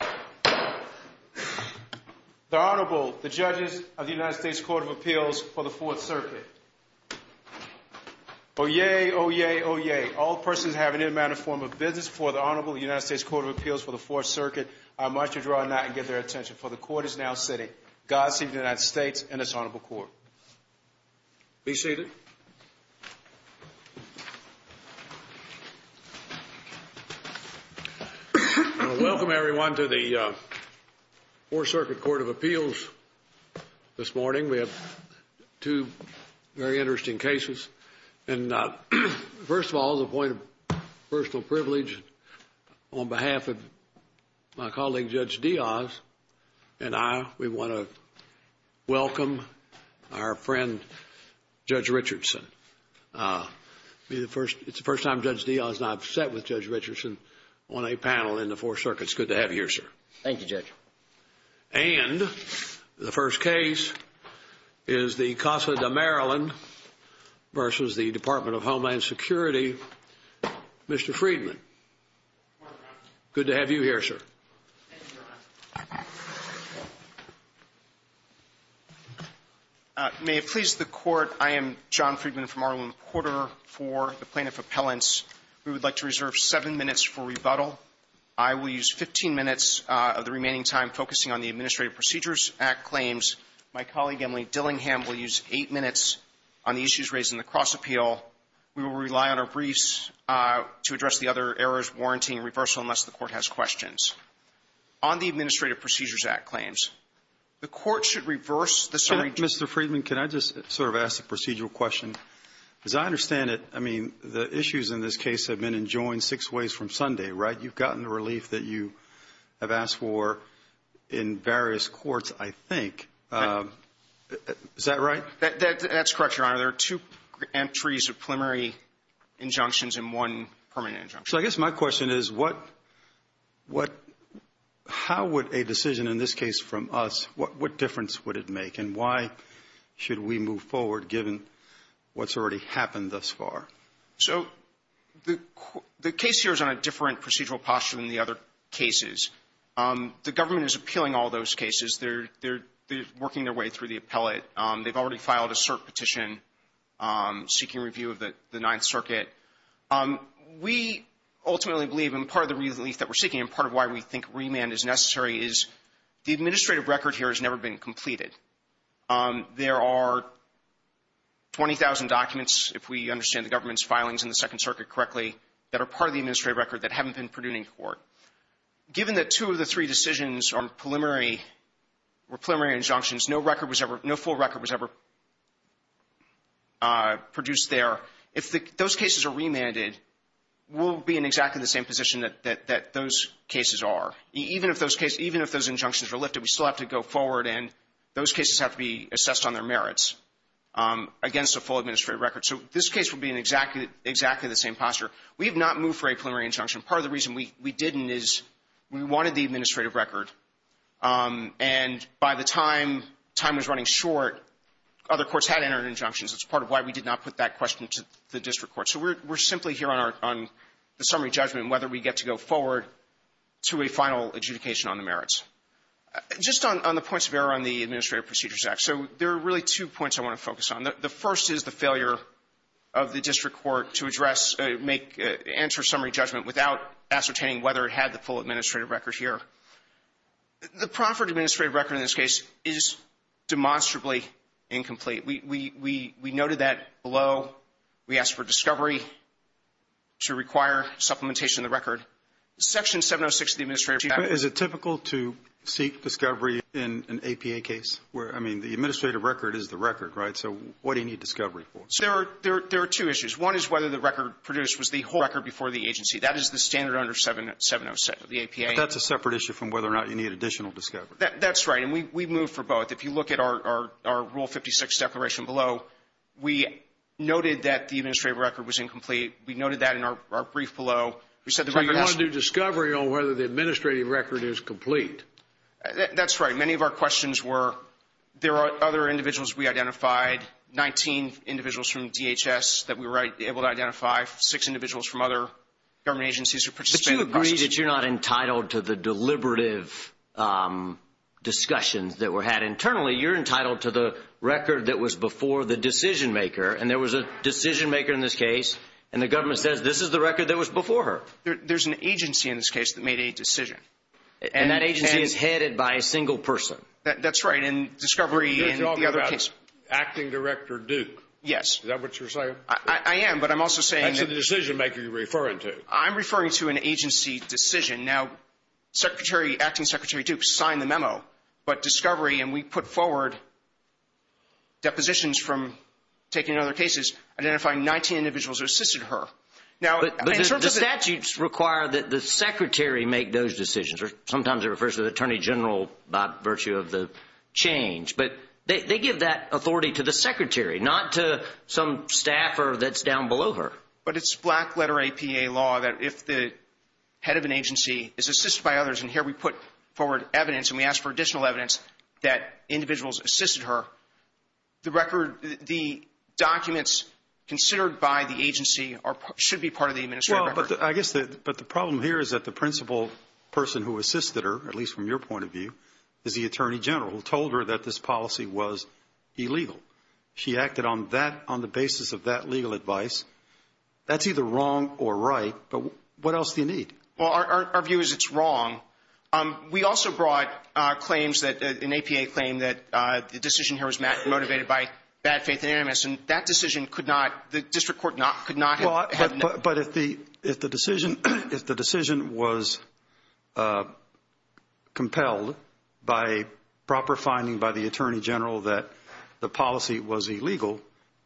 The Honorable, the Judges of the United States Court of Appeals for the Fourth Circuit. Oyez, oyez, oyez, all persons having any manner or form of business for the Honorable United States Court of Appeals for the Fourth Circuit are admitted to draw a knot and give their attention for the Court is now sitting. Godspeed to the United States and this Honorable Court. Be seated. Welcome, everyone, to the Fourth Circuit Court of Appeals. This morning we have two very interesting cases. And first of all, the point of personal privilege on behalf of my colleague Judge Diaz and I, we want to welcome our friend Judge Richardson. It's the first time Judge Diaz is not set with Judge Richardson on a panel in the Fourth Circuit. It's good to have you here, sir. Thank you, Judge. And the first case is the Casa de Maryland versus the Department of Homeland Security, Mr. Friedman. Good to have you here, sir. May it please the Court, I am John Friedman from Arlington Quarter for the Plaintiff Appellants. We would like to reserve seven minutes for rebuttal. I will use 15 minutes of the remaining time focusing on the Administrative Procedures Act claims. My colleague, Emily Dillingham, will use eight minutes on the issues raised in the cross appeal. We will rely on our briefs to address the other errors, warranty, and reversal unless the Court has questions. On the Administrative Procedures Act claims, the Court should reverse the... Mr. Friedman, can I just sort of ask a procedural question? As I understand it, I mean, the issues in this case have been enjoined six ways from Sunday, right? You've gotten the relief that you have asked for in various courts, I think. Is that right? That's correct, Your Honor. There are two entries of preliminary injunctions and one permanent injunction. So I guess my question is, how would a decision in this case from us, what difference would it make and why should we move forward given what's already happened thus far? So the case here is on a different procedural posture than the other cases. The government is appealing all those cases. They're working their way through the appellate. They've already filed a cert petition seeking review of the Ninth Circuit. We ultimately believe, and part of the relief that we're seeking and part of why we think remand is necessary is the administrative record here has never been completed. There are 20,000 documents, if we understand the government's filings in the Second Circuit correctly, that are part of the administrative record that haven't been produced in court. Given that two of the three decisions were preliminary injunctions, no full record was ever produced there. If those cases are remanded, we'll be in exactly the same position that those cases are. Even if those cases, even if those injunctions are lifted, we still have to go forward and those cases have to be assessed on their merits against a full administrative record. So this case would be in exactly the same posture. We have not moved for a preliminary injunction. Part of the reason we didn't is we wanted the administrative record, and by the time time was running short, other courts had entered injunctions. It's part of why we did not put that question to the district court. So we're simply here on the summary judgment on whether we get to go forward to a final adjudication on the merits. Just on the points of error on the Administrative Procedures Act. So there are really two points I want to focus on. The first is the failure of the district court to address, answer summary judgment without ascertaining whether it had the full administrative record here. The proffered administrative record in this case is demonstrably incomplete. We noted that below. We asked for discovery to require supplementation of the record. Section 706 of the Administrative Procedures Act... Is it typical to seek discovery in an APA case? I mean, the administrative record is the record, right? So what do you need discovery for? There are two issues. One is whether the record produced was the whole record before the agency. That is the standard under 707 of the APA. That's a separate issue from whether or not you need additional discovery. That's right, and we've moved for both. If you look at our Rule 56 declaration below, we noted that the administrative record was incomplete. We noted that in our brief below. So you're going to do discovery on whether the administrative record is complete. That's right. Many of our questions were, there are other individuals we identified, 19 individuals from DHS that we were able to identify, six individuals from other government agencies who participated. But you agreed that you're not entitled to the deliberative discussions that were had internally. You're entitled to the record that was before the decision-maker, and there was a decision-maker in this case, and the government says this is the record that was before her. There's an agency in this case that made a decision. And that agency is headed by a single person. That's right, and discovery... You're talking about Acting Director Duke. Yes. Is that what you're saying? I am, but I'm also saying... That's the decision-maker you're referring to. I'm referring to an agency decision. Now, Acting Secretary Duke signed the memo, but discovery, and we put forward depositions from taking other cases, identifying 19 individuals who assisted her. But the statutes require that the secretary make those decisions. Sometimes it refers to the Attorney General by virtue of the change. But they give that authority to the secretary, not to some staffer that's down below her. But it's black-letter APA law that if the head of an agency is assisted by others, and here we put forward evidence, and we ask for additional evidence that individuals assisted her, the documents considered by the agency should be part of the administrative record. I guess the problem here is that the principal person who assisted her, at least from your point of view, is the Attorney General, who told her that this policy was illegal. She acted on the basis of that legal advice. That's either wrong or right, but what else do you need? Well, our view is it's wrong. We also brought claims, an APA claim, that the decision here was motivated by bad faith and animus, and that decision could not, the district court could not have... But if the decision was compelled by proper finding by the Attorney General that the policy was illegal,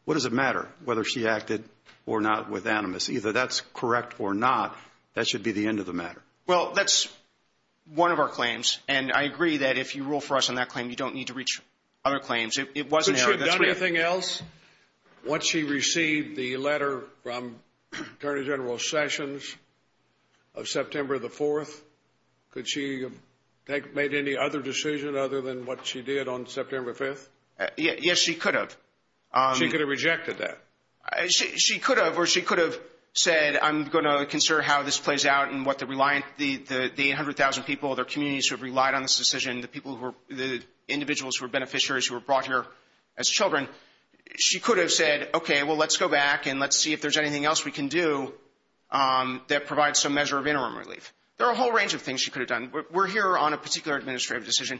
what does it matter whether she acted or not with animus? Either that's correct or not, that should be the end of the matter. Well, that's one of our claims, and I agree that if you rule for us on that claim, you don't need to reach other claims. It wasn't... Has the district court done anything else once she received the letter from Attorney General Sessions of September the 4th? Could she have made any other decision other than what she did on September the 5th? Yes, she could have. She could have rejected that? She could have, or she could have said, I'm going to consider how this plays out and what the 800,000 people in their communities who have relied on this decision, the individuals who are beneficiaries who were brought here as children, she could have said, okay, well, let's go back and let's see if there's anything else we can do that provides some measure of interim relief. There are a whole range of things she could have done. We're here on a particular administrative decision.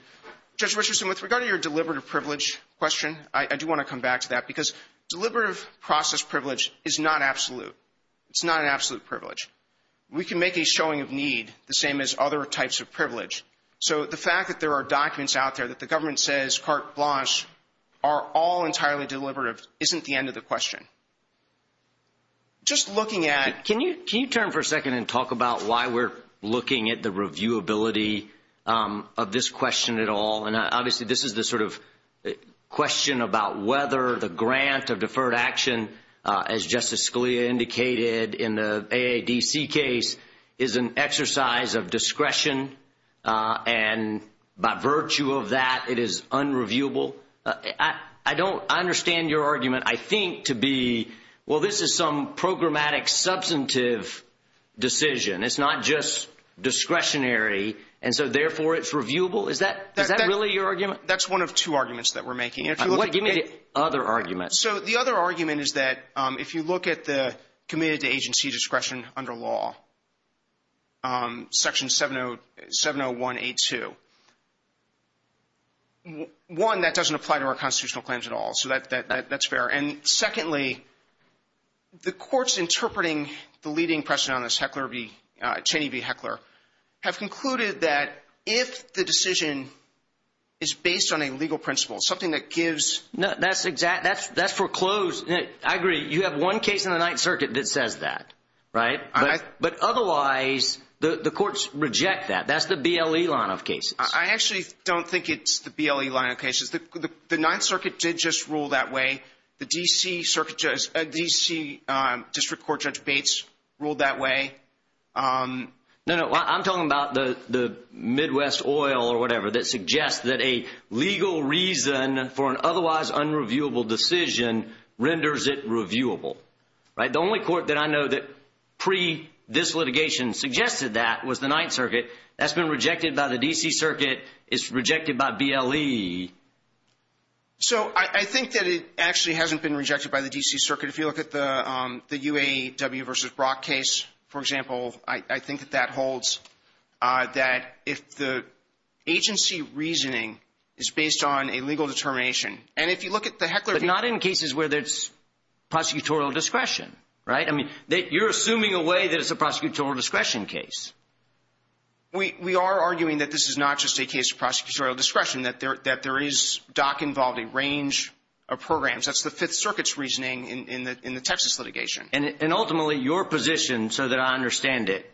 Judge Richardson, with regard to your deliberative privilege question, I do want to come back to that, because deliberative process privilege is not absolute. It's not an absolute privilege. We can make a showing of need the same as other types of privilege. So the fact that there are documents out there that the government says carte blanche are all entirely deliberative isn't the end of the question. Just looking at... Can you turn for a second and talk about why we're looking at the reviewability of this question at all? And obviously this is the sort of question about whether the grant of deferred action, as Justice Scalia indicated in the AADC case, is an exercise of discretion, and by virtue of that it is unreviewable. I don't understand your argument, I think, to be, well, this is some programmatic substantive decision. It's not just discretionary, and so therefore it's reviewable. Is that really your argument? That's one of two arguments that we're making. Give me the other argument. So the other argument is that if you look at the committed to agency discretion under law, section 701A2, one, that doesn't apply to our constitutional claims at all, so that's fair. And secondly, the court's interpreting the leading precedent on this, Cheney v. Heckler, have concluded that if the decision is based on a legal principle, something that gives... That's foreclosed. I agree, you have one case in the Ninth Circuit that says that, right? But otherwise the courts reject that. That's the BLE line of cases. I actually don't think it's the BLE line of cases. The Ninth Circuit did just rule that way. The D.C. District Court Judge Bates ruled that way. No, no, I'm talking about the Midwest Oil or whatever that suggests that a legal reason for an otherwise unreviewable decision renders it reviewable. The only court that I know that pre-this litigation suggested that was the Ninth Circuit. That's been rejected by the D.C. Circuit. It's rejected by BLE. So I think that it actually hasn't been rejected by the D.C. Circuit. If you look at the UAW v. Brock case, for example, I think that that holds, that if the agency reasoning is based on a legal determination, and if you look at the Heckler case... But not in cases where there's prosecutorial discretion, right? I mean, you're assuming a way that it's a prosecutorial discretion case. We are arguing that this is not just a case of prosecutorial discretion, that there is DOC involved in a range of programs. That's the Fifth Circuit's reasoning in the Texas litigation. And ultimately, your position, so that I understand it,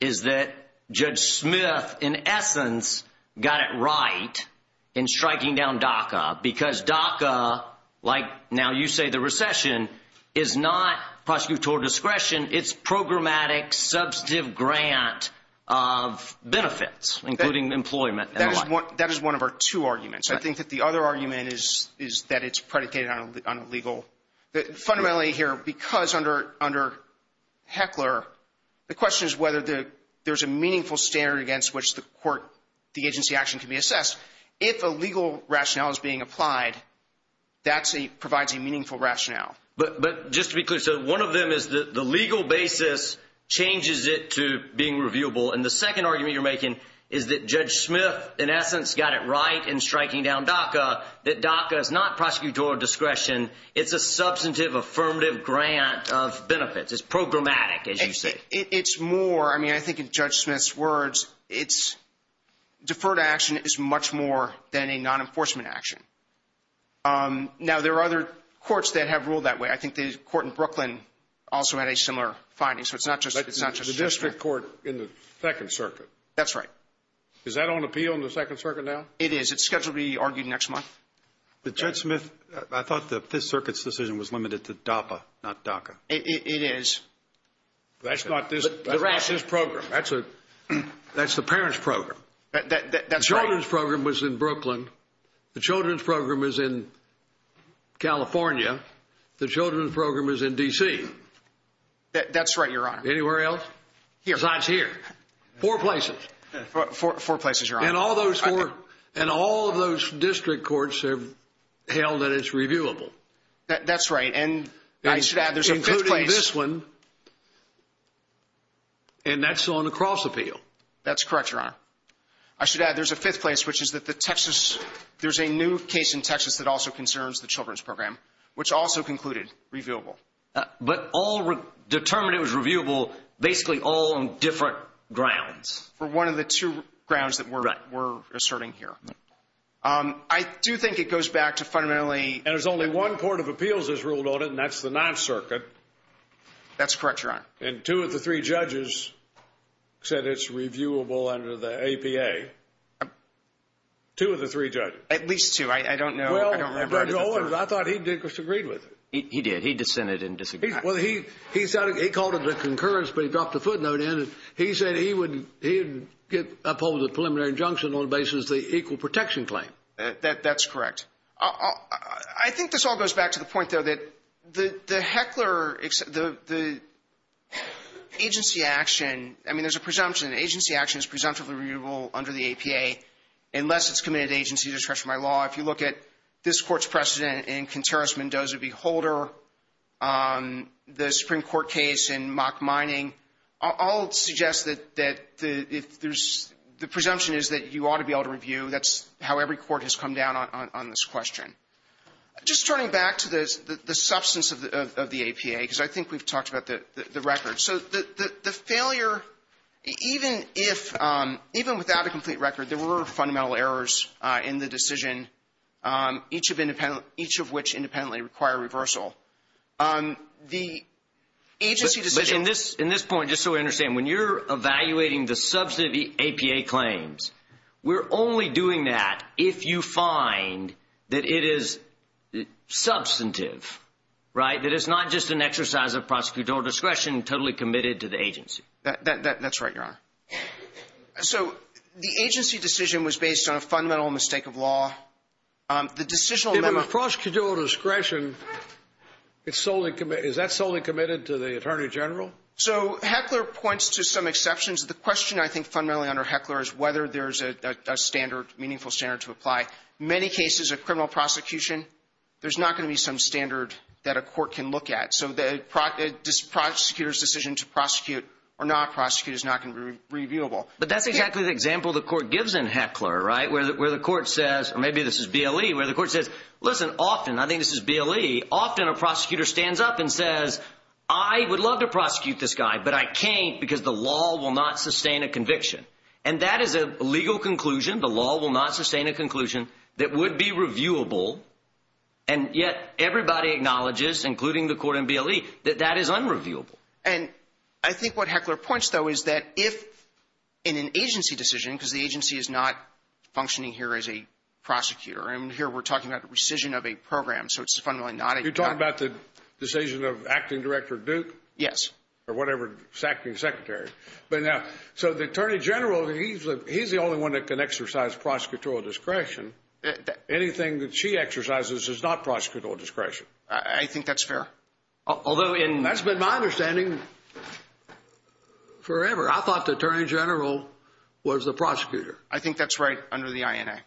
is that Judge Smith, in essence, got it right in striking down DACA because DACA, like now you say the recession, is not prosecutorial discretion. It's programmatic, substantive grant of benefits, including employment. That is one of our two arguments. I think that the other argument is that it's predicated on legal... Fundamentally here, because under Heckler, the question is whether there's a meaningful standard against which the agency action can be assessed. If a legal rationale is being applied, that provides a meaningful rationale. But just to be clear, so one of them is that the legal basis changes it to being reviewable, and the second argument you're making is that Judge Smith, in essence, got it right in striking down DACA, that DACA is not prosecutorial discretion. It's a substantive, affirmative grant of benefits. It's programmatic, as you say. It's more, I mean, I think in Judge Smith's words, deferred action is much more than a non-enforcement action. Now, there are other courts that have ruled that way. I think the court in Brooklyn also had a similar finding. The district court in the 2nd Circuit. That's right. Is that on appeal in the 2nd Circuit now? It is. It's scheduled to be argued next month. But Judge Smith, I thought the 5th Circuit's decision was limited to DACA, not DACA. It is. That's not this program. That's the parents' program. That's right. The children's program was in Brooklyn. The children's program was in California. The children's program was in D.C. That's right, Your Honor. Anywhere else? Here. Four places. Four places, Your Honor. And all of those district courts have held that it's reviewable. That's right, and I should add there's a fifth place. Including this one, and that's on the cross-appeal. That's correct, Your Honor. I should add there's a fifth place, which is that the Texas, there's a new case in Texas that also concerns the children's program, which also concluded reviewable. But determined it was reviewable basically all on different grounds. One of the two grounds that we're asserting here. I do think it goes back to fundamentally – And there's only one court of appeals that's ruled on it, and that's the 9th Circuit. That's correct, Your Honor. And two of the three judges said it's reviewable under the APA. Two of the three judges. At least two. I don't know – Well, Judge Owens, I thought he disagreed with it. He did. He dissented and disagreed. Well, he called it a concurrence, but he dropped a footnote in it. He said he would oppose a preliminary injunction on the basis of the equal protection claim. That's correct. I think this all goes back to the point, though, that the Heckler agency action, I mean, there's a presumption that agency action is presumptively reviewable under the APA unless it's committed to agency discretion by law. If you look at this court's precedent in Contreras-Mendoza v. Holder, the Supreme Court case in mock mining, I'll suggest that the presumption is that you ought to be able to review. That's how every court has come down on this question. Just turning back to the substance of the APA, because I think we've talked about the record. The failure, even without a complete record, there were fundamental errors in the decision, each of which independently require reversal. In this point, just so we understand, when you're evaluating the substantive APA claims, we're only doing that if you find that it is substantive, right, that it's not just an exercise of prosecutorial discretion totally committed to the agency. That's right, Your Honor. So the agency decision was based on a fundamental mistake of law. The decisional member— In a prosecutorial discretion, is that solely committed to the attorney general? So Heckler points to some exceptions. The question, I think, fundamentally under Heckler is whether there's a standard, meaningful standard to apply. Many cases of criminal prosecution, there's not going to be some standard that a court can look at. So the prosecutor's decision to prosecute or not prosecute is not going to be reviewable. But that's exactly the example the court gives in Heckler, right, where the court says, or maybe this is BLE, where the court says, listen, often, I think this is BLE, often a prosecutor stands up and says, I would love to prosecute this guy, but I can't because the law will not sustain a conviction. And that is a legal conclusion. The law will not sustain a conclusion that would be reviewable, and yet everybody acknowledges, including the court in BLE, that that is unreviewable. And I think what Heckler points, though, is that if in an agency decision, because the agency is not functioning here as a prosecutor, and here we're talking about the rescission of a program, so it's fundamentally not a— You're talking about the decision of acting director Duke? Yes. Or whatever, acting secretary. But now, so the attorney general, he's the only one that can exercise prosecutorial discretion. Anything that she exercises is not prosecutorial discretion. I think that's fair. Although in— That's been my understanding forever. I thought the attorney general was the prosecutor. I think that's right under the INA.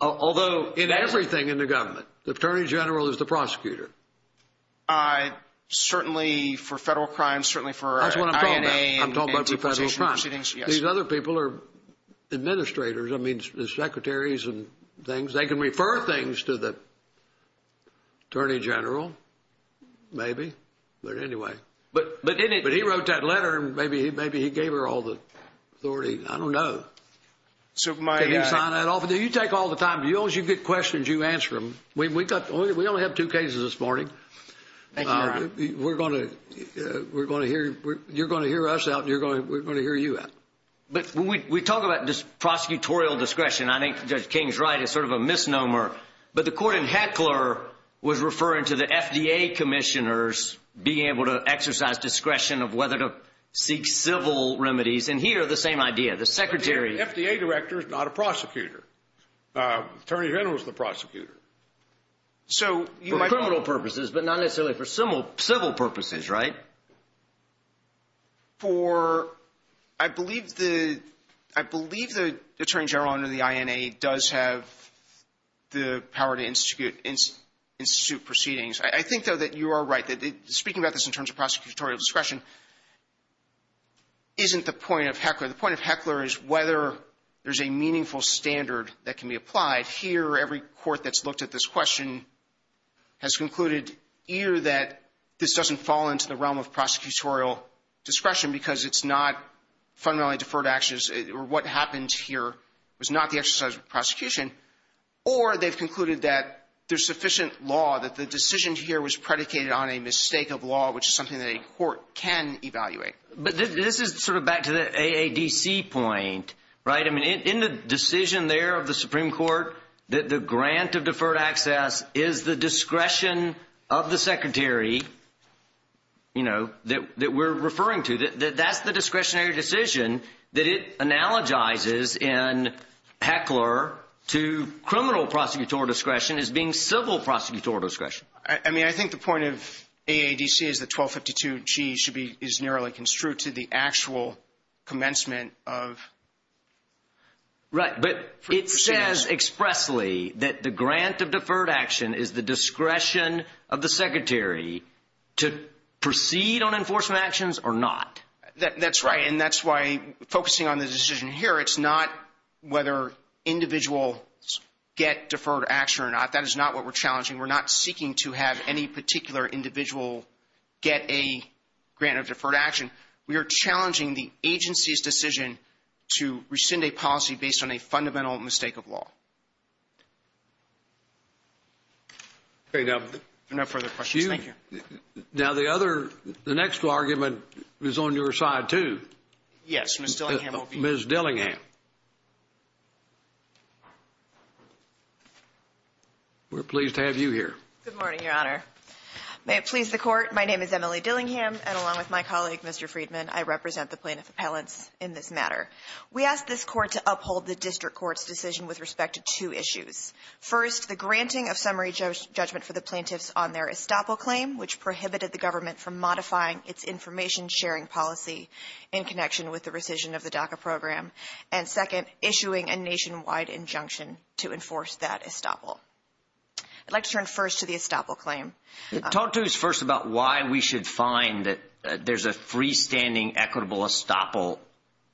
Although— In everything in the government, the attorney general is the prosecutor. Certainly for federal crimes, certainly for— That's what I'm talking about. I'm talking about the federal crimes. These other people are administrators. I mean, secretaries and things. They can refer things to the attorney general, maybe, but anyway. But he wrote that letter, and maybe he gave her all the authority. I don't know. Did he sign that off? You take all the time. As long as you get questions, you answer them. We only have two cases this morning. We're going to—you're going to hear us out, and we're going to hear you out. But we talk about prosecutorial discretion. I think Judge King's right. It's sort of a misnomer. But the court in Heckler was referring to the FDA commissioners being able to exercise discretion of whether to seek civil remedies. And here, the same idea. The secretary— The FDA director is not a prosecutor. Attorney Hill is the prosecutor. For criminal purposes, but not necessarily for civil purposes, right? For—I believe the attorney general under the INA does have the power to institute proceedings. I think, though, that you are right. Speaking about this in terms of prosecutorial discretion isn't the point of Heckler. The point of Heckler is whether there's a meaningful standard that can be applied. Here, every court that's looked at this question has concluded either that this doesn't fall into the realm of prosecutorial discretion because it's not fundamentally deferred actions, or what happens here is not the exercise of prosecution, or they've concluded that there's sufficient law, that the decision here was predicated on a mistake of law, which is something that a court can evaluate. But this is sort of back to the AADC point, right? In the decision there of the Supreme Court, the grant of deferred access is the discretion of the secretary that we're referring to. That's the discretionary decision that it analogizes in Heckler to criminal prosecutorial discretion as being civil prosecutorial discretion. I mean, I think the point of AADC is the 1252G is narrowly construed to the actual commencement of... Right, but it says expressly that the grant of deferred action is the discretion of the secretary to proceed on enforcement actions or not. That's right, and that's why focusing on the decision here, it's not whether individuals get deferred action or not. That is not what we're challenging. We're not seeking to have any particular individual get a grant of deferred action. We are challenging the agency's decision to rescind a policy based on a fundamental mistake of law. No further questions. Thank you. Now, the next argument is on your side, too. Yes, Ms. Dillingham. Ms. Dillingham. We're pleased to have you here. Good morning, Your Honor. May it please the Court, my name is Emily Dillingham, and along with my colleague, Mr. Friedman, I represent the plaintiff appellant in this matter. We ask this Court to uphold the district court's decision with respect to two issues. First, the granting of summary judgment for the plaintiffs on their estoppel claim, which prohibited the government from modifying its information sharing policy in connection with the rescission of the DACA program. And second, issuing a nationwide injunction to enforce that estoppel. I'd like to turn first to the estoppel claim. Talk to us first about why we should find that there's a freestanding equitable estoppel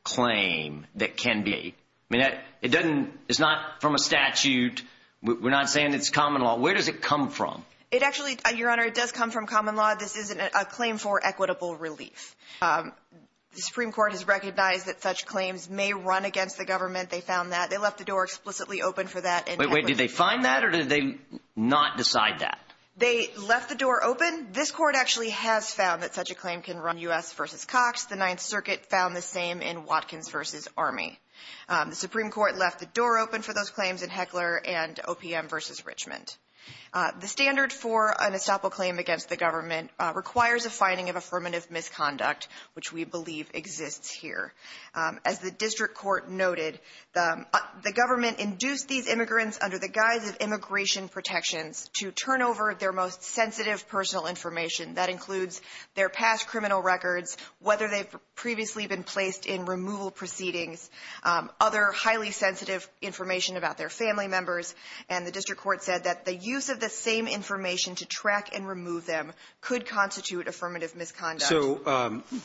claim that can be. I mean, it's not from a statute. We're not saying it's common law. Where does it come from? It actually, Your Honor, it does come from common law. This isn't a claim for equitable relief. The Supreme Court has recognized that such claims may run against the government. They found that. They left the door explicitly open for that. Wait, wait, did they find that or did they not decide that? They left the door open. This Court actually has found that such a claim can run U.S. v. Cox. The Ninth Circuit found the same in Watkins v. Army. The Supreme Court left the door open for those claims in Heckler and OPM v. Richmond. The standard for an estoppel claim against the government requires a finding of affirmative misconduct, which we believe exists here. As the district court noted, the government induced these immigrants under the guise of immigration protections to turn over their most sensitive personal information. That includes their past criminal records, whether they've previously been placed in removal proceedings, other highly sensitive information about their family members. The district court said that the use of the same information to track and remove them could constitute affirmative misconduct.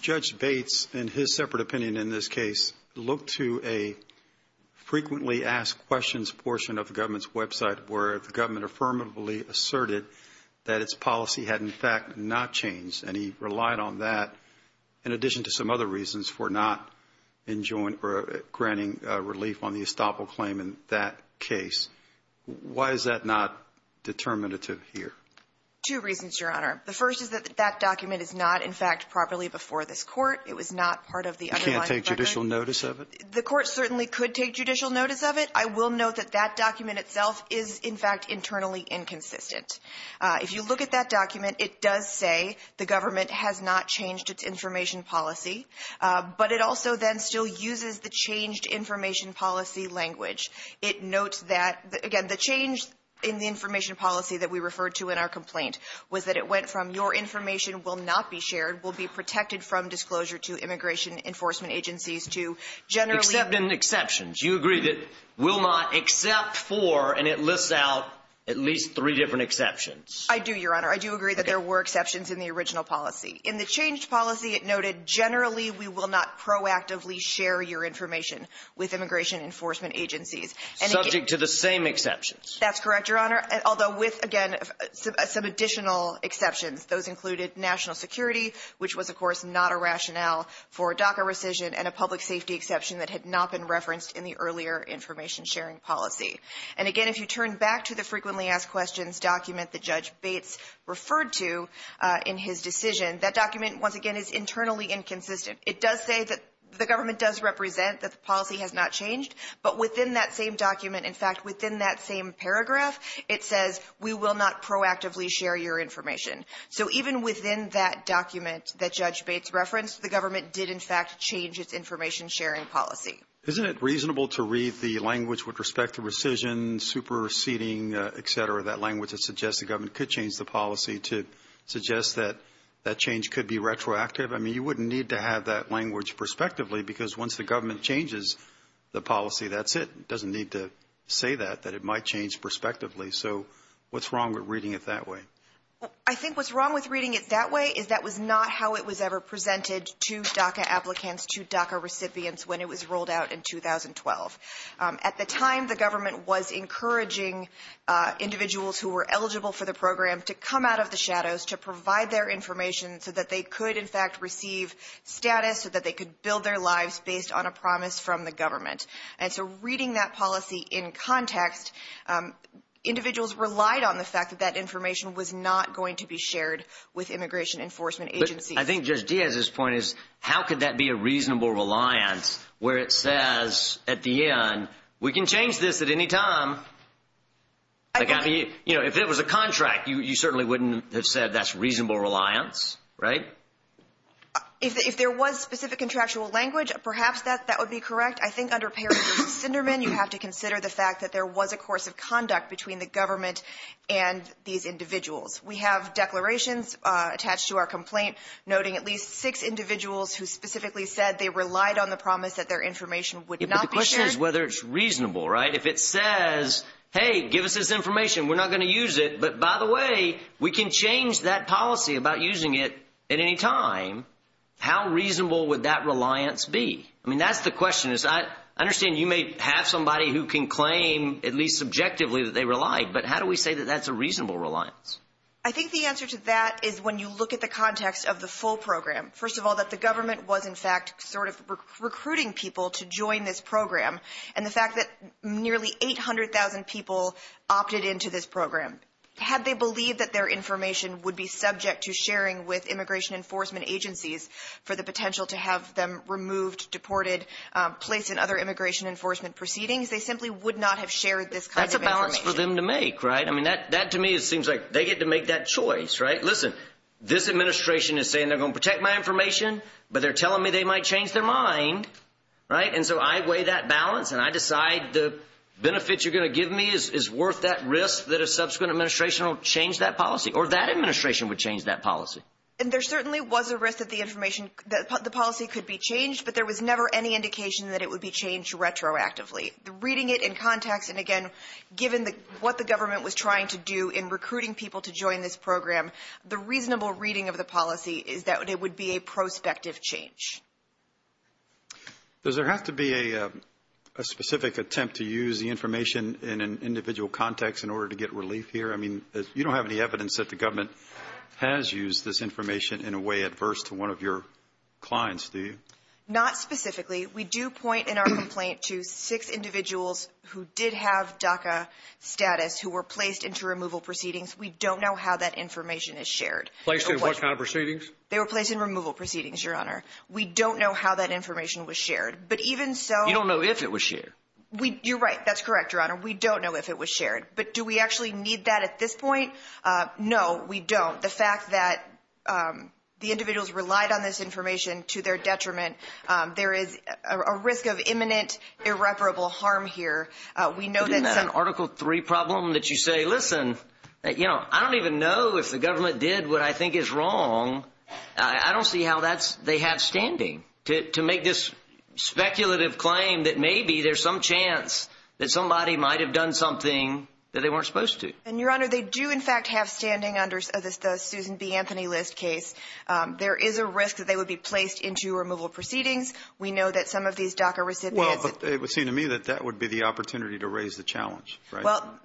Judge Bates, in his separate opinion in this case, looked to a frequently asked questions portion of the government's website, where the government affirmatively asserted that its policy had, in fact, not changed. And he relied on that, in addition to some other reasons, for not granting relief on the estoppel claim in that case. Why is that not determinative here? Two reasons, Your Honor. The first is that that document is not, in fact, properly before this Court. It was not part of the underlying document. You can't take judicial notice of it? The Court certainly could take judicial notice of it. I will note that that document itself is, in fact, internally inconsistent. If you look at that document, it does say the government has not changed its information policy, but it also then still uses the changed information policy language. It notes that, again, the change in the information policy that we referred to in our complaint was that it went from, your information will not be shared, will be protected from disclosure to immigration enforcement agencies to generally- Except in exceptions. You agree that will not except for, and it lists out at least three different exceptions. I do, Your Honor. I do agree that there were exceptions in the original policy. In the changed policy, it noted generally we will not proactively share your information with immigration enforcement agencies. Subject to the same exceptions. That's correct, Your Honor, although with, again, some additional exceptions. Those included national security, which was, of course, not a rationale for DACA rescission, and a public safety exception that had not been referenced in the earlier information sharing policy. Again, if you turn back to the frequently asked questions document that Judge Bates referred to in his decision, that document, once again, is internally inconsistent. It does say that the government does represent that the policy has not changed, but within that same document, in fact, within that same paragraph, it says we will not proactively share your information. So even within that document that Judge Bates referenced, the government did, in fact, change its information sharing policy. Isn't it reasonable to read the language with respect to rescission, superseding, et cetera, that language that suggests the government could change the policy to suggest that that change could be retroactive? I mean, you wouldn't need to have that language prospectively because once the government changes the policy, that's it. It doesn't need to say that, that it might change prospectively. So what's wrong with reading it that way? I think what's wrong with reading it that way is that was not how it was ever presented to DACA applicants, to DACA recipients when it was rolled out in 2012. At the time, the government was encouraging individuals who were eligible for the program to come out of the shadows, to provide their information so that they could, in fact, receive status, so that they could build their lives based on a promise from the government. And so reading that policy in context, individuals relied on the fact that that information was not going to be shared with immigration enforcement agencies. I think Judge Diaz's point is how could that be a reasonable reliance where it says at the end, we can change this at any time. If it was a contract, you certainly wouldn't have said that's reasonable reliance, right? If there was specific contractual language, perhaps that would be correct. I think under Paris Sinderman, you have to consider the fact that there was a course of conduct between the government and these individuals. We have declarations attached to our complaint noting at least six individuals who specifically said they relied on the promise that their information would not be shared. But the question is whether it's reasonable, right? If it says, hey, give us this information, we're not going to use it, but by the way, we can change that policy about using it at any time, how reasonable would that reliance be? That's the question. I understand you may have somebody who can claim at least subjectively that they relied, but how do we say that that's a reasonable reliance? I think the answer to that is when you look at the context of the full program. First of all, that the government was in fact sort of recruiting people to join this program and the fact that nearly 800,000 people opted into this program. Had they believed that their information would be subject to sharing with immigration enforcement agencies for the potential to have them removed, deported, placed in other immigration enforcement proceedings, they simply would not have shared this kind of information. That's a balance for them to make, right? I mean, that to me seems like they get to make that choice, right? Listen, this administration is saying they're going to protect my information, but they're telling me they might change their mind, right? And so I weigh that balance and I decide the benefits you're going to give me is worth that risk And there certainly was a risk of the information that the policy could be changed, but there was never any indication that it would be changed retroactively. Reading it in context and, again, given what the government was trying to do in recruiting people to join this program, the reasonable reading of the policy is that it would be a prospective change. Does there have to be a specific attempt to use the information in an individual context in order to get relief here? I mean, you don't have any evidence that the government has used this information in a way adverse to one of your clients, do you? Not specifically. We do point in our complaint to six individuals who did have DACA status who were placed into removal proceedings. We don't know how that information is shared. Placed in what kind of proceedings? They were placed in removal proceedings, Your Honor. We don't know how that information was shared. You don't know if it was shared? You're right. That's correct, Your Honor. We don't know if it was shared. But do we actually need that at this point? No, we don't. The fact that the individuals relied on this information to their detriment, there is a risk of imminent irreparable harm here. Isn't that an Article III problem that you say, listen, you know, I don't even know if the government did what I think is wrong. I don't see how they have standing to make this speculative claim that maybe there's some chance that somebody might have done something that they weren't supposed to. And, Your Honor, they do in fact have standing under the Susan B. Anthony List case. There is a risk that they would be placed into removal proceedings. We know that some of these DACA recipients – Well, but it would seem to me that that would be the opportunity to raise the challenge, right? Well,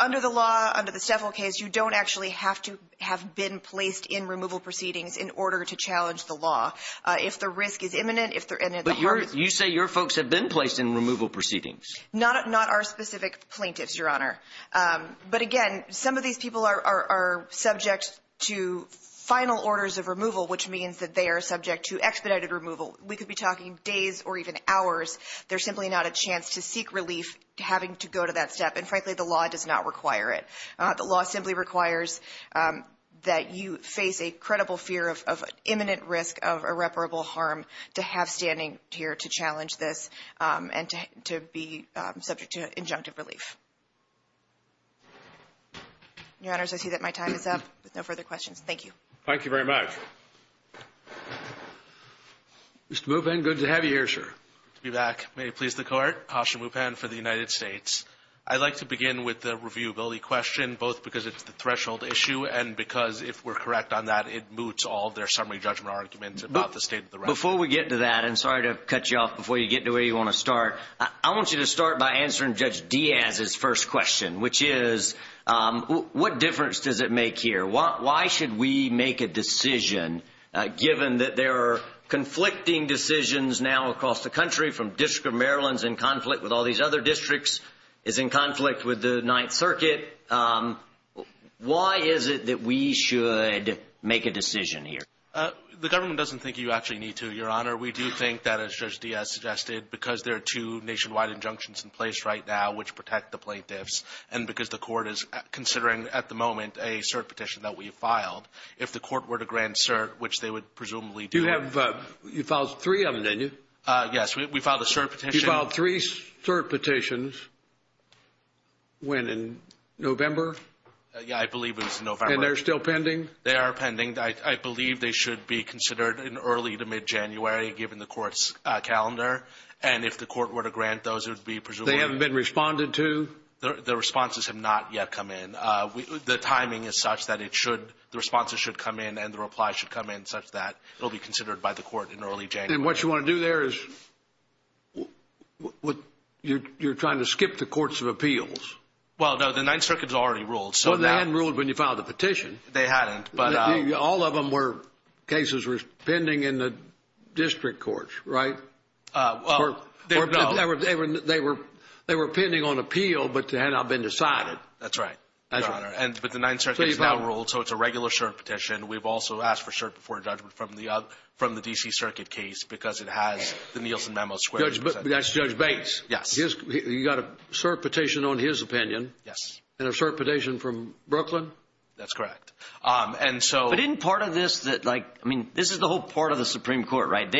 under the law, under the Steffel case, you don't actually have to have been placed in removal proceedings in order to challenge the law. If the risk is imminent, if there is – But you say your folks have been placed in removal proceedings. Not our specific plaintiffs, Your Honor. But, again, some of these people are subject to final orders of removal, which means that they are subject to expedited removal. We could be talking days or even hours. There's simply not a chance to seek relief having to go to that step. And, frankly, the law does not require it. The law simply requires that you face a credible fear of imminent risk of irreparable harm to have standing here to challenge this and to be subject to injunctive relief. Your Honors, I see that my time is up. No further questions. Thank you. Thank you very much. Mr. Mupan, good to have you here, sir. Steve Ack, may it please the Court. Asha Mupan for the United States. I'd like to begin with the reviewability question, both because it's a threshold issue and because, if we're correct on that, it moots all their summary judgment arguments about the state of the record. Before we get to that, and sorry to cut you off before you get to where you want to start, I want you to start by answering Judge Diaz's first question, which is, what difference does it make here? Why should we make a decision, given that there are conflicting decisions now across the country from District of Maryland is in conflict with all these other districts, is in conflict with the Ninth Circuit? Why is it that we should make a decision here? The government doesn't think you actually need to, Your Honor. We do think that, as Judge Diaz suggested, because there are two nationwide injunctions in place right now, which protect the plaintiffs, and because the Court is considering, at the moment, a cert petition that we filed. If the Court were to grant cert, which they would presumably do. You filed three of them, didn't you? Yes, we filed a cert petition. You filed three cert petitions. When, in November? Yeah, I believe it was in November. And they're still pending? They are pending. I believe they should be considered in early to mid-January, given the Court's calendar. And if the Court were to grant those, it would be presumably. They haven't been responded to? The responses have not yet come in. The timing is such that the responses should come in and the replies should come in, such that it will be considered by the Court in early January. And what you want to do there is you're trying to skip the courts of appeals? Well, no, the Ninth Circuit has already ruled. Well, they hadn't ruled when you filed the petition. They hadn't. All of them were cases that were pending in the district courts, right? Well, no. They were pending on appeal, but they had not been decided. That's right. But the Ninth Circuit has now ruled, so it's a regular cert petition. We've also asked for cert before a judgment from the D.C. Circuit case because it has the Nielsen Memo Square. That's Judge Bates. Yes. You got a cert petition on his opinion and a cert petition from Brooklyn? That's correct. But isn't part of this that, like, I mean, this is the whole part of the Supreme Court, right?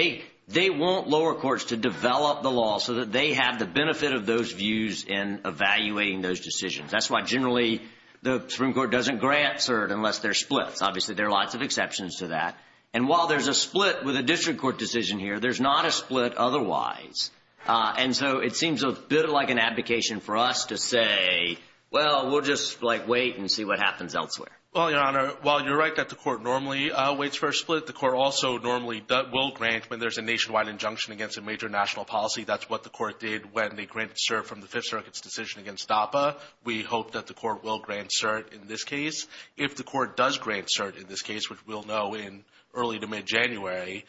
They want lower courts to develop the law so that they have the benefit of those views in evaluating those decisions. That's why generally the Supreme Court doesn't grant cert unless they're split. Obviously, there are lots of exceptions to that. And while there's a split with a district court decision here, there's not a split otherwise. And so it seems a bit like an advocation for us to say, well, we'll just, like, wait and see what happens elsewhere. Well, Your Honor, while you're right that the court normally waits for a split, the court also normally will grant when there's a nationwide injunction against a major national policy. That's what the court did when they granted cert from the Fifth Circuit's decision against DAPA. We hope that the court will grant cert in this case. If the court does grant cert in this case, which we'll know in early to mid-January,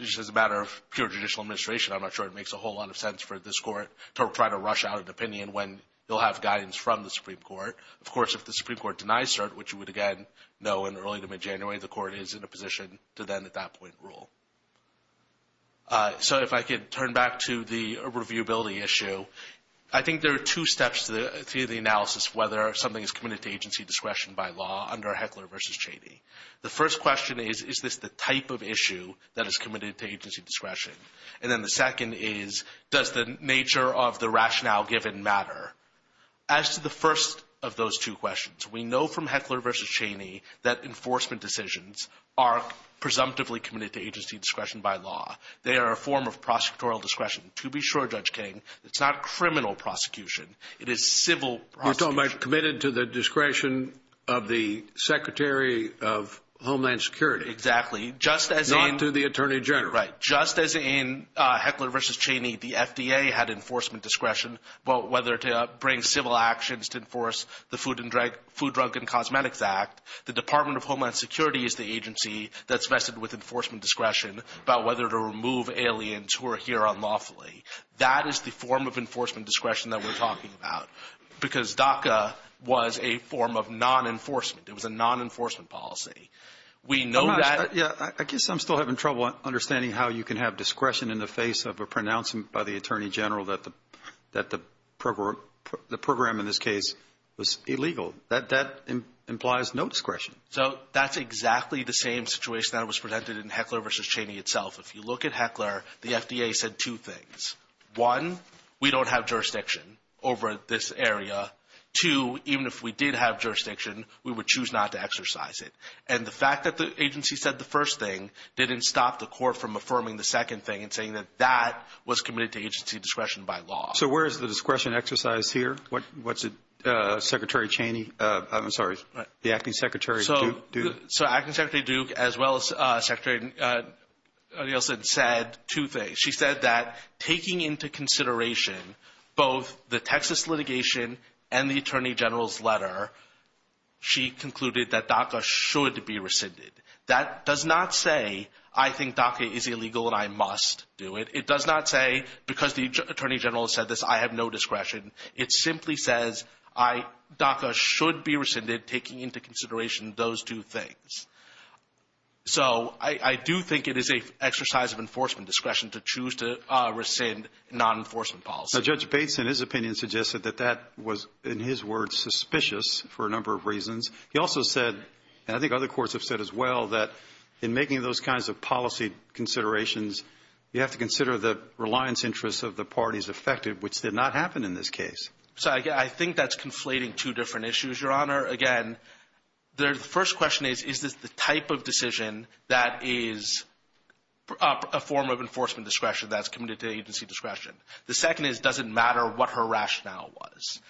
just as a matter of pure judicial administration, I'm not sure it makes a whole lot of sense for this court to try to rush out an opinion when they'll have guidance from the Supreme Court. Of course, if the Supreme Court denies cert, which you would, again, know in early to mid-January, the court is in a position to then at that point rule. So if I could turn back to the reviewability issue, I think there are two steps to the analysis whether something is committed to agency discretion by law under Heckler v. Cheney. The first question is, is this the type of issue that is committed to agency discretion? And then the second is, does the nature of the rationale given matter? As to the first of those two questions, we know from Heckler v. Cheney that enforcement decisions are presumptively committed to agency discretion by law. They are a form of prosecutorial discretion. To be sure, Judge King, it's not criminal prosecution. You're talking about committed to the discretion of the Secretary of Homeland Security. Exactly. Not to the Attorney General. Right. Just as in Heckler v. Cheney, the FDA had enforcement discretion about whether to bring civil actions to enforce the Food, Drug, and Cosmetics Act, the Department of Homeland Security is the agency that's vested with enforcement discretion about whether to remove aliens who are here unlawfully. That is the form of enforcement discretion that we're talking about because DACA was a form of non-enforcement. It was a non-enforcement policy. I guess I'm still having trouble understanding how you can have discretion in the face of a pronouncement by the Attorney General that the program in this case was illegal. That implies no discretion. That's exactly the same situation that was presented in Heckler v. Cheney itself. If you look at Heckler, the FDA said two things. One, we don't have jurisdiction over this area. Two, even if we did have jurisdiction, we would choose not to exercise it. The fact that the agency said the first thing didn't stop the court from affirming the second thing and saying that that was committed to agency discretion by law. Where is the discretion exercised here? What's it, Secretary Cheney? I'm sorry, the Acting Secretary Duke? So, Acting Secretary Duke as well as Secretary Nielsen said two things. She said that taking into consideration both the Texas litigation and the Attorney General's letter, she concluded that DACA should be rescinded. That does not say I think DACA is illegal and I must do it. It does not say because the Attorney General said this I have no discretion. It simply says DACA should be rescinded taking into consideration those two things. So, I do think it is an exercise of enforcement discretion to choose to rescind non-enforcement policy. Judge Bates, in his opinion, suggested that that was, in his words, suspicious for a number of reasons. He also said, and I think other courts have said as well, that in making those kinds of policy considerations, you have to consider the reliance interests of the parties affected, which did not happen in this case. So, I think that's conflating two different issues, Your Honor. Again, the first question is, is this the type of decision that is a form of enforcement discretion that's committed to agency discretion? The second is, does it matter what her rationale was?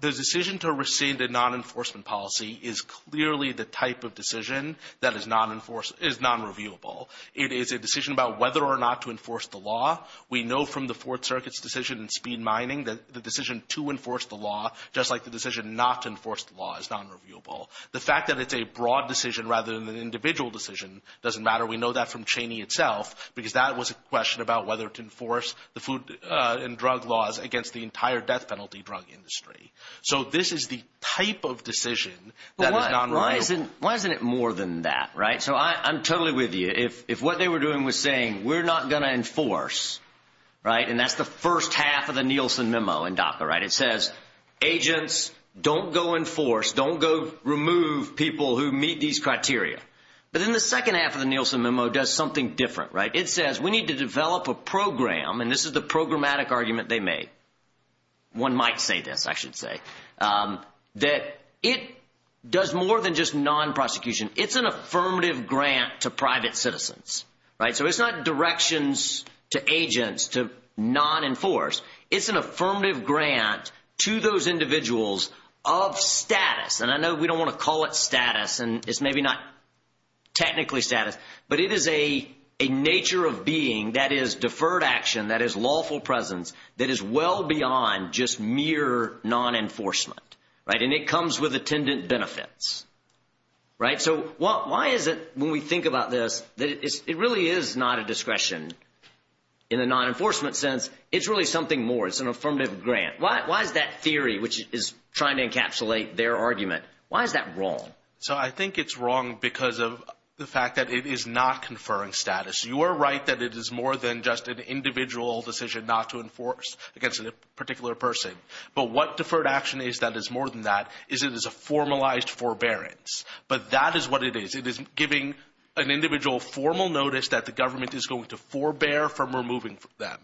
The decision to rescind a non-enforcement policy is clearly the type of decision that is non-reviewable. It is a decision about whether or not to enforce the law. We know from the Fourth Circuit's decision in speed mining that the decision to enforce the law, just like the decision not to enforce the law, is non-reviewable. The fact that it's a broad decision rather than an individual decision doesn't matter. We know that from Cheney itself because that was a question about whether to enforce the food and drug laws against the entire death penalty drug industry. So, this is the type of decision that is non-reviewable. Why isn't it more than that, right? So, I'm totally with you. If what they were doing was saying, we're not going to enforce, right, and that's the first half of the Nielsen memo in DACA, right? It says, agents, don't go enforce, don't go remove people who meet these criteria. But then the second half of the Nielsen memo does something different, right? It says, we need to develop a program, and this is the programmatic argument they made. One might say this, I should say. That it does more than just non-prosecution. It's an affirmative grant to private citizens, right? So, it's not directions to agents to non-enforce. It's an affirmative grant to those individuals of status, and I know we don't want to call it status, and it's maybe not technically status, but it is a nature of being that is deferred action, that is lawful presence, that is well beyond just mere non-enforcement, right? And it comes with attendant benefits, right? So, why is it, when we think about this, it really is not a discretion in a non-enforcement sense. It's really something more. It's an affirmative grant. Why is that theory, which is trying to encapsulate their argument, why is that wrong? So, I think it's wrong because of the fact that it is not conferring status. You are right that it is more than just an individual decision not to enforce against a particular person, but what deferred action is that is more than that is it is a formalized forbearance, but that is what it is. It is giving an individual formal notice that the government is going to forbear from removing them,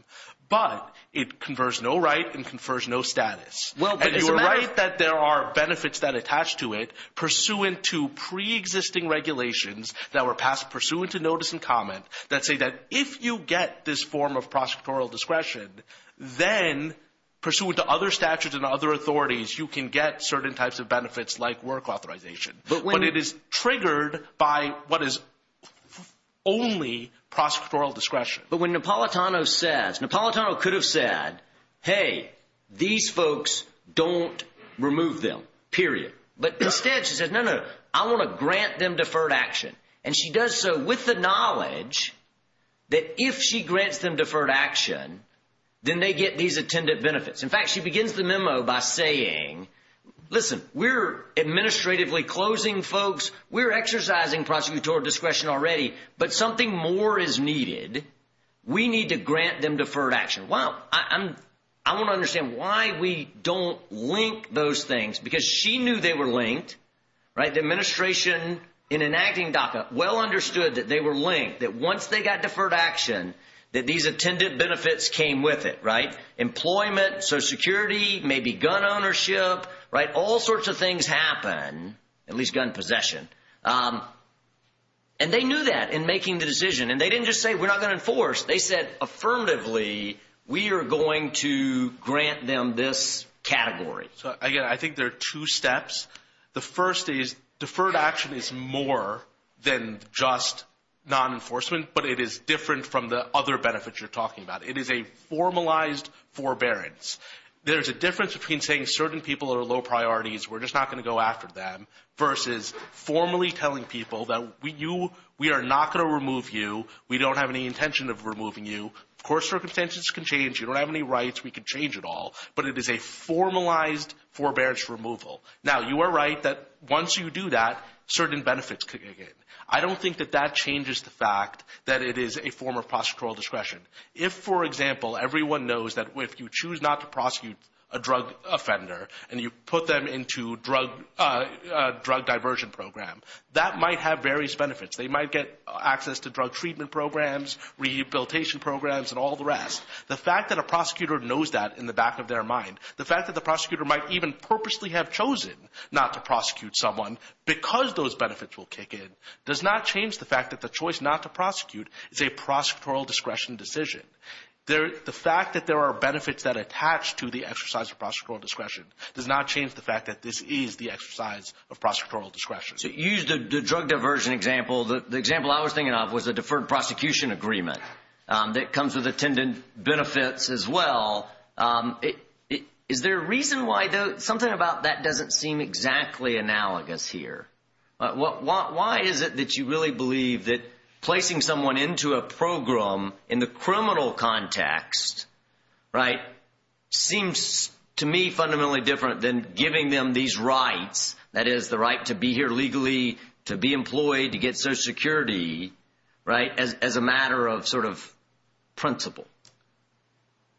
but it confers no right and confers no status. And you are right that there are benefits that attach to it pursuant to preexisting regulations that were passed, pursuant to notice and comment that say that if you get this form of prosecutorial discretion, then pursuant to other statutes and other authorities, you can get certain types of benefits like work authorization. But it is triggered by what is only prosecutorial discretion. But when Napolitano says, Napolitano could have said, hey, these folks don't remove them, period. But instead she says, no, no, I want to grant them deferred action. And she does so with the knowledge that if she grants them deferred action, then they get these attendant benefits. In fact, she begins the memo by saying, listen, we are administratively closing folks, we are exercising prosecutorial discretion already, but something more is needed. We need to grant them deferred action. Well, I want to understand why we don't link those things, because she knew they were linked. The administration in enacting DACA well understood that they were linked, that once they got deferred action, that these attendant benefits came with it. Employment, Social Security, maybe gun ownership, all sorts of things happen, at least gun possession. And they knew that in making the decision. And they didn't just say, we're not going to enforce. They said, affirmatively, we are going to grant them this category. I think there are two steps. The first is deferred action is more than just non-enforcement, but it is different from the other benefits you're talking about. It is a formalized forbearance. There is a difference between saying certain people are low priorities, we're just not going to go after them, versus formally telling people that we are not going to remove you, we don't have any intention of removing you. Of course, circumstances can change. You don't have any rights. We can change it all. But it is a formalized forbearance removal. Now, you are right that once you do that, certain benefits can come in. I don't think that that changes the fact that it is a form of prosecutorial discretion. If, for example, everyone knows that if you choose not to prosecute a drug offender and you put them into a drug diversion program, that might have various benefits. They might get access to drug treatment programs, rehabilitation programs, and all the rest. The fact that a prosecutor knows that in the back of their mind, the fact that the prosecutor might even purposely have chosen not to prosecute someone because those benefits will kick in, does not change the fact that the choice not to prosecute is a prosecutorial discretion decision. The fact that there are benefits that attach to the exercise of prosecutorial discretion does not change the fact that this is the exercise of prosecutorial discretion. You used the drug diversion example. The example I was thinking of was a deferred prosecution agreement that comes with attendant benefits as well. Is there a reason why something about that doesn't seem exactly analogous here? Why is it that you really believe that placing someone into a program in the criminal context seems to me fundamentally different than giving them these rights, that is, the right to be here legally, to be employed, to get Social Security, as a matter of principle?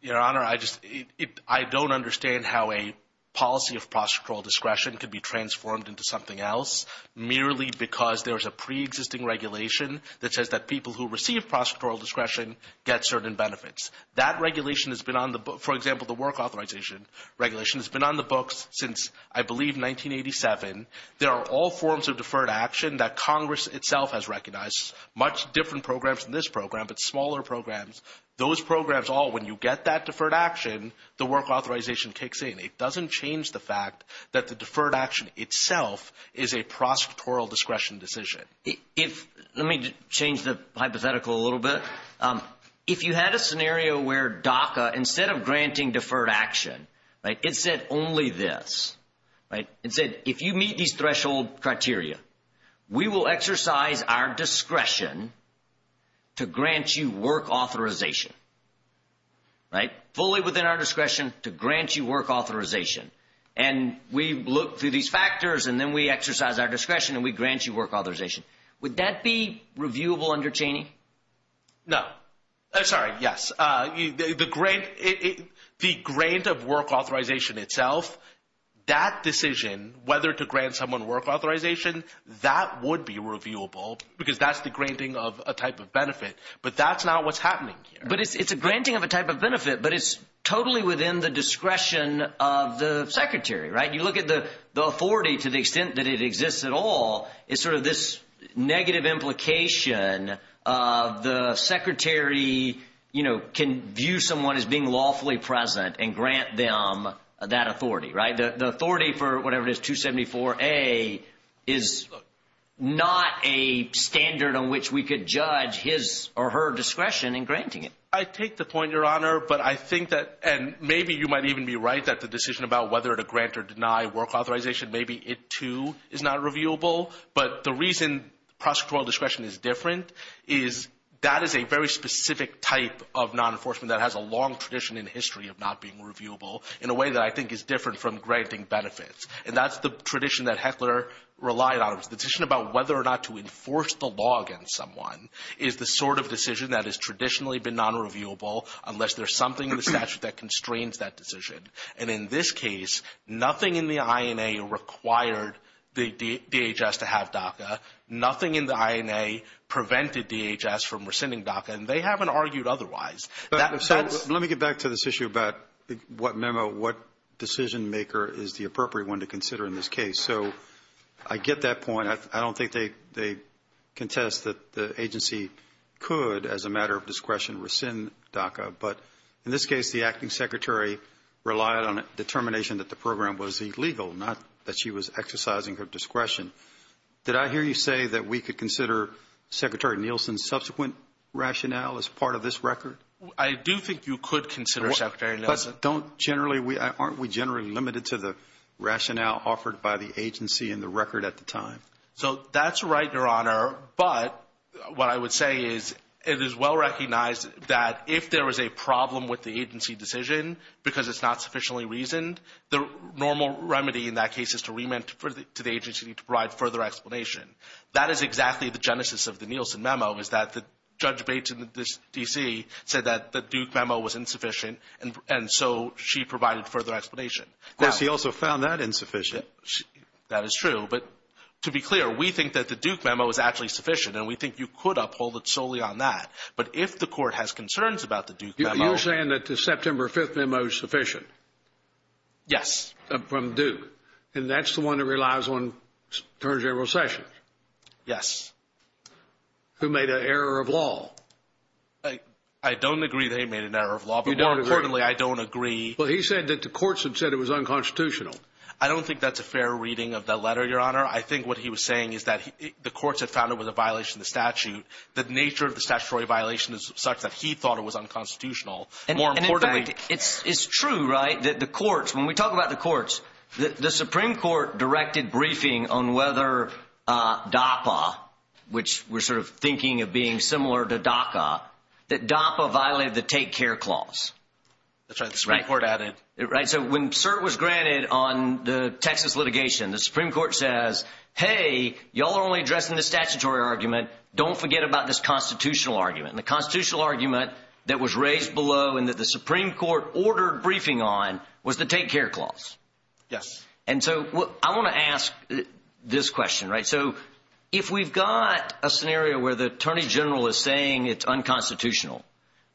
Your Honor, I don't understand how a policy of prosecutorial discretion could be transformed into something else merely because there is a preexisting regulation that says that people who receive prosecutorial discretion get certain benefits. That regulation has been on the books. For example, the work authorization regulation has been on the books since, I believe, 1987. There are all forms of deferred action that Congress itself has recognized, much different programs than this program but smaller programs. Those programs all, when you get that deferred action, the work authorization kicks in. It doesn't change the fact that the deferred action itself is a prosecutorial discretion decision. Let me change the hypothetical a little bit. If you had a scenario where DACA, instead of granting deferred action, it said only this. It said, if you meet these threshold criteria, we will exercise our discretion to grant you work authorization, fully within our discretion to grant you work authorization. We look through these factors and then we exercise our discretion and we grant you work authorization. Would that be reviewable under Cheney? No. Sorry, yes. The grant of work authorization itself, that decision, whether to grant someone work authorization, that would be reviewable because that's the granting of a type of benefit, but that's not what's happening here. It's a granting of a type of benefit, but it's totally within the discretion of the secretary. You look at the authority to the extent that it exists at all, it's sort of this negative implication of the secretary can view someone as being lawfully present and grant them that authority. The authority for whatever it is, 274A, is not a standard on which we could judge his or her discretion in granting it. I take the point, Your Honor, but I think that, and maybe you might even be right that the decision about whether to grant or deny work authorization, maybe it too is not reviewable, but the reason prosecutorial discretion is different is that is a very specific type of non-enforcement that has a long tradition in history of not being reviewable in a way that I think is different from granting benefits. That's the tradition that Heckler relied on. It was a decision about whether or not to enforce the law against someone is the sort of decision that has traditionally been non-reviewable unless there's something in the statute that constrains that decision. In this case, nothing in the INA required the DHS to have DACA. Nothing in the INA prevented DHS from rescinding DACA, and they haven't argued otherwise. Let me get back to this issue about what memo, what decision maker is the appropriate one to consider in this case. I get that point. I don't think they contest that the agency could, as a matter of discretion, rescind DACA, but in this case, the acting secretary relied on a determination that the program was illegal, not that she was exercising her discretion. Did I hear you say that we could consider Secretary Nielsen's subsequent rationale as part of this record? I do think you could consider Secretary Nielsen's. But aren't we generally limited to the rationale offered by the agency and the record at the time? That's right, Your Honor, but what I would say is it is well recognized that if there is a problem with the agency decision because it's not sufficiently reasoned, the normal remedy in that case is to remand to the agency to provide further explanation. That is exactly the genesis of the Nielsen memo is that Judge Bates in D.C. said that the Duke memo was insufficient, and so she provided further explanation. Yes, she also found that insufficient. That is true. But to be clear, we think that the Duke memo is actually sufficient, and we think you could uphold it solely on that. But if the court has concerns about the Duke memo. You're saying that the September 5th memo is sufficient? Yes. From Duke, and that's the one that relies on terms of your recession? Yes. Who made an error of law? I don't agree they made an error of law, but more importantly, I don't agree. Well, he said that the courts had said it was unconstitutional. I don't think that's a fair reading of that letter, Your Honor. I think what he was saying is that the courts had found it was a violation of the statute. The nature of the statutory violation is such that he thought it was unconstitutional. In fact, it's true, right, that the courts, when we talk about the courts, the Supreme Court directed briefing on whether DAPA, which we're sort of thinking of being similar to DACA, that DAPA violated the Take Care Clause. That's right, the Supreme Court added. Right, so when cert was granted on the Texas litigation, the Supreme Court says, hey, y'all are only addressing the statutory argument. Don't forget about this constitutional argument. The constitutional argument that was raised below and that the Supreme Court ordered briefing on was the Take Care Clause. Yes. And so I want to ask this question, right? So if we've got a scenario where the Attorney General is saying it's unconstitutional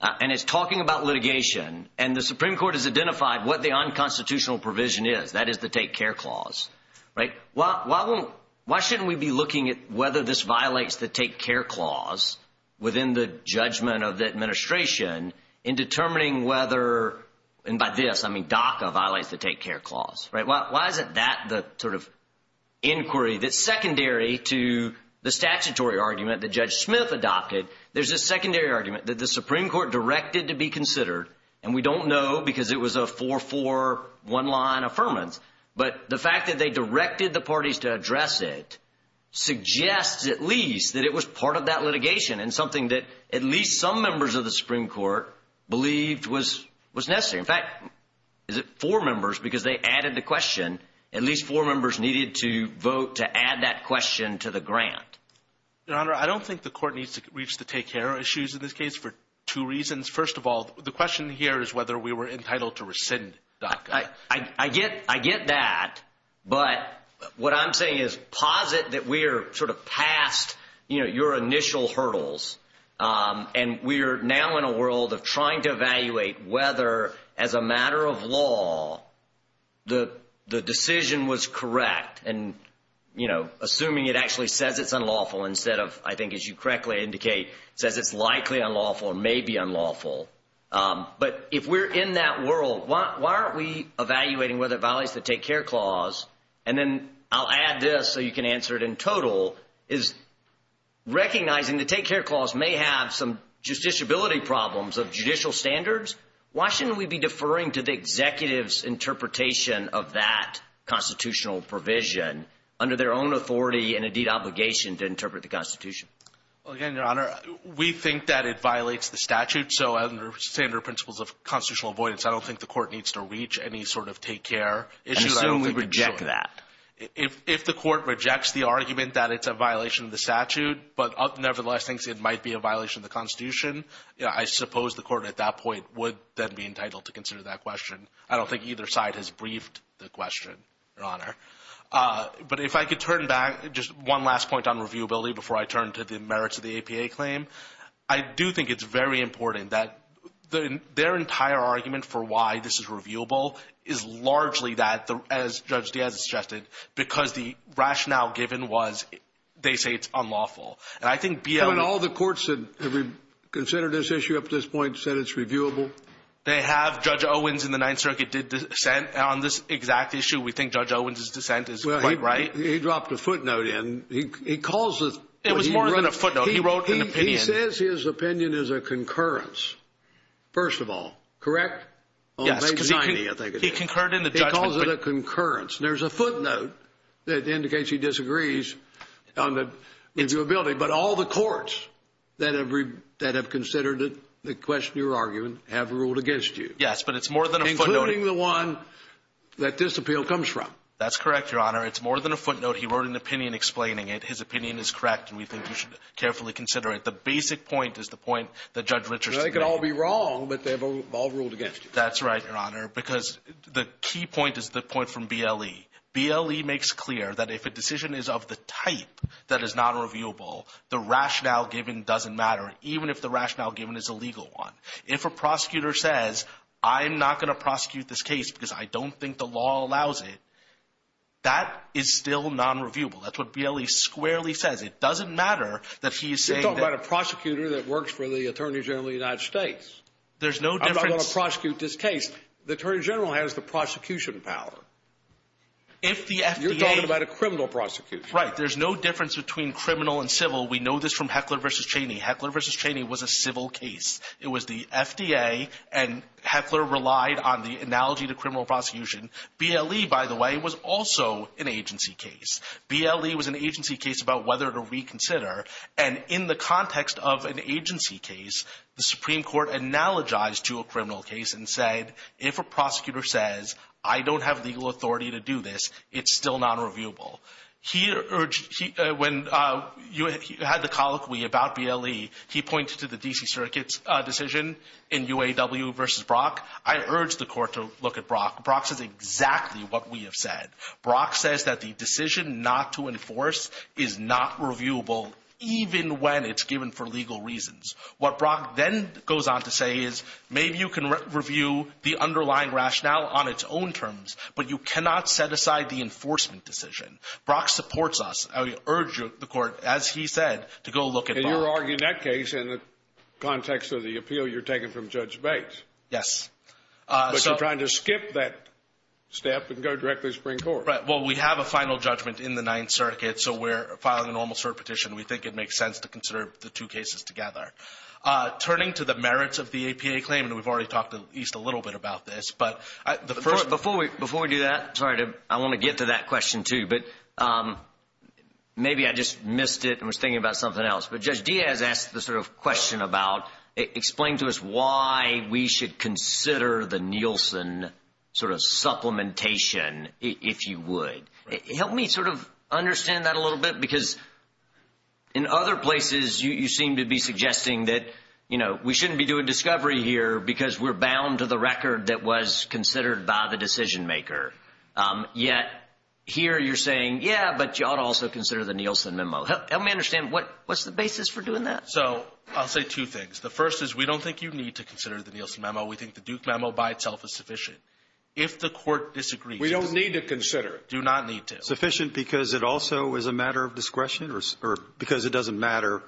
and is talking about litigation and the Supreme Court has identified what the unconstitutional provision is, that is the Take Care Clause, right, why shouldn't we be looking at whether this violates the Take Care Clause within the judgment of the administration in determining whether, and by this, I mean DACA violates the Take Care Clause, right? Why isn't that the sort of inquiry that's secondary to the statutory argument that Judge Smith adopted? There's a secondary argument that the Supreme Court directed to be considered, and we don't know because it was a 4-4, one-line affirmance, but the fact that they directed the parties to address it suggests at least that it was part of that litigation and something that at least some members of the Supreme Court believed was necessary. In fact, four members, because they added the question, at least four members needed to vote to add that question to the grant. Your Honor, I don't think the Court needs to reach the Take Care issues in this case for two reasons. First of all, the question here is whether we were entitled to rescind DACA. I get that, but what I'm saying is posit that we are sort of past, you know, your initial hurdles, and we are now in a world of trying to evaluate whether, as a matter of law, the decision was correct, and, you know, assuming it actually says it's unlawful instead of, I think as you correctly indicate, says it's likely unlawful or may be unlawful. But if we're in that world, why aren't we evaluating whether it violates the Take Care Clause, and then I'll add this so you can answer it in total, is recognizing the Take Care Clause may have some justiciability problems of judicial standards. Why shouldn't we be deferring to the executive's interpretation of that constitutional provision under their own authority and, indeed, obligation to interpret the Constitution? Well, again, Your Honor, we think that it violates the statute, so under standard principles of constitutional avoidance, I don't think the court needs to reach any sort of Take Care issues. And we reject that. If the court rejects the argument that it's a violation of the statute, but nevertheless thinks it might be a violation of the Constitution, I suppose the court at that point would then be entitled to consider that question. I don't think either side has briefed the question, Your Honor. But if I could turn back, just one last point on reviewability before I turn to the merits of the APA claim, I do think it's very important that their entire argument for why this is reviewable is largely that, as Judge Dan suggested, because the rationale given was they say it's unlawful. And I think beyond all the courts that have considered this issue up to this point said it's reviewable. They have. Judge Owens in the Ninth Circuit did dissent on this exact issue. We think Judge Owens' dissent is quite right. He dropped a footnote in. It was more than a footnote. He wrote an opinion. He says his opinion is a concurrence, first of all. Correct? Yes. He concurred in the judgment. He calls it a concurrence. There's a footnote that indicates he disagrees on the reviewability, but all the courts that have considered the question or argument have ruled against you. Yes, but it's more than a footnote. That this appeal comes from. That's correct, Your Honor. It's more than a footnote. He wrote an opinion explaining it. His opinion is correct, and we think we should carefully consider it. The basic point is the point that Judge Richards made. They could all be wrong, but they've all ruled against you. That's right, Your Honor, because the key point is the point from BLE. BLE makes clear that if a decision is of the type that is not reviewable, the rationale given doesn't matter, even if the rationale given is a legal one. If a prosecutor says, I'm not going to prosecute this case because I don't think the law allows it, that is still non-reviewable. That's what BLE squarely says. It doesn't matter that he's saying that. You're talking about a prosecutor that works for the Attorney General of the United States. There's no difference. I'm going to prosecute this case. The Attorney General has the prosecution power. You're talking about a criminal prosecution. Right. There's no difference between criminal and civil. We know this from Heckler v. Cheney. Heckler v. Cheney was a civil case. It was the FDA, and Heckler relied on the analogy to criminal prosecution. BLE, by the way, was also an agency case. BLE was an agency case about whether to reconsider. And in the context of an agency case, the Supreme Court analogized to a criminal case and said, if a prosecutor says, I don't have legal authority to do this, it's still non-reviewable. When you had the colloquy about BLE, he points to the D.C. Circuit's decision in UAW v. Brock. I urge the court to look at Brock. Brock says exactly what we have said. Brock says that the decision not to enforce is not reviewable, even when it's given for legal reasons. What Brock then goes on to say is maybe you can review the underlying rationale on its own terms, but you cannot set aside the enforcement decision. Brock supports us. I urge the court, as he said, to go look at Brock. And you're arguing that case in the context of the appeal you're taking from Judge Bates. Yes. But you're trying to skip that step and go directly to the Supreme Court. Right. Well, we have a final judgment in the Ninth Circuit, so we're filing an almost fair petition. We think it makes sense to consider the two cases together. Turning to the merits of the APA claim, and we've already talked at least a little bit about this. Before we do that, I want to get to that question, too. But maybe I just missed it and was thinking about something else. But Judge Diaz asked the sort of question about explain to us why we should consider the Nielsen sort of supplementation, if you would. Help me sort of understand that a little bit, because in other places you seem to be suggesting that, you know, we shouldn't be doing discovery here because we're bound to the record that was considered by the decision maker. Yet here you're saying, yeah, but you ought to also consider the Nielsen memo. Help me understand, what's the basis for doing that? So I'll say two things. The first is we don't think you need to consider the Nielsen memo. We think the Duke memo by itself is sufficient. If the court disagrees. We don't need to consider it. Do not need to. Sufficient because it also is a matter of discretion or because it doesn't matter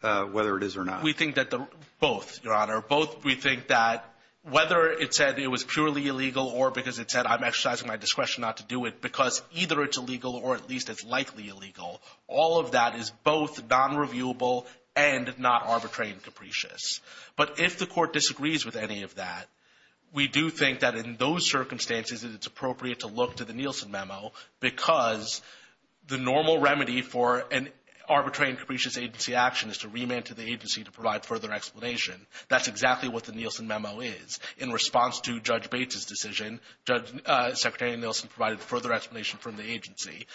whether it is or not. We think that both, Your Honor. Both we think that whether it said it was purely illegal or because it said I'm exercising my discretion not to do it because either it's illegal or at least it's likely illegal. All of that is both non-reviewable and not arbitrary and capricious. But if the court disagrees with any of that, we do think that in those circumstances it's appropriate to look to the Nielsen memo because the normal remedy for an arbitrary and capricious agency action is to remand to the agency to provide further explanation. That's exactly what the Nielsen memo is. In response to Judge Bates' decision, Secretary Nielsen provided further explanation from the agency.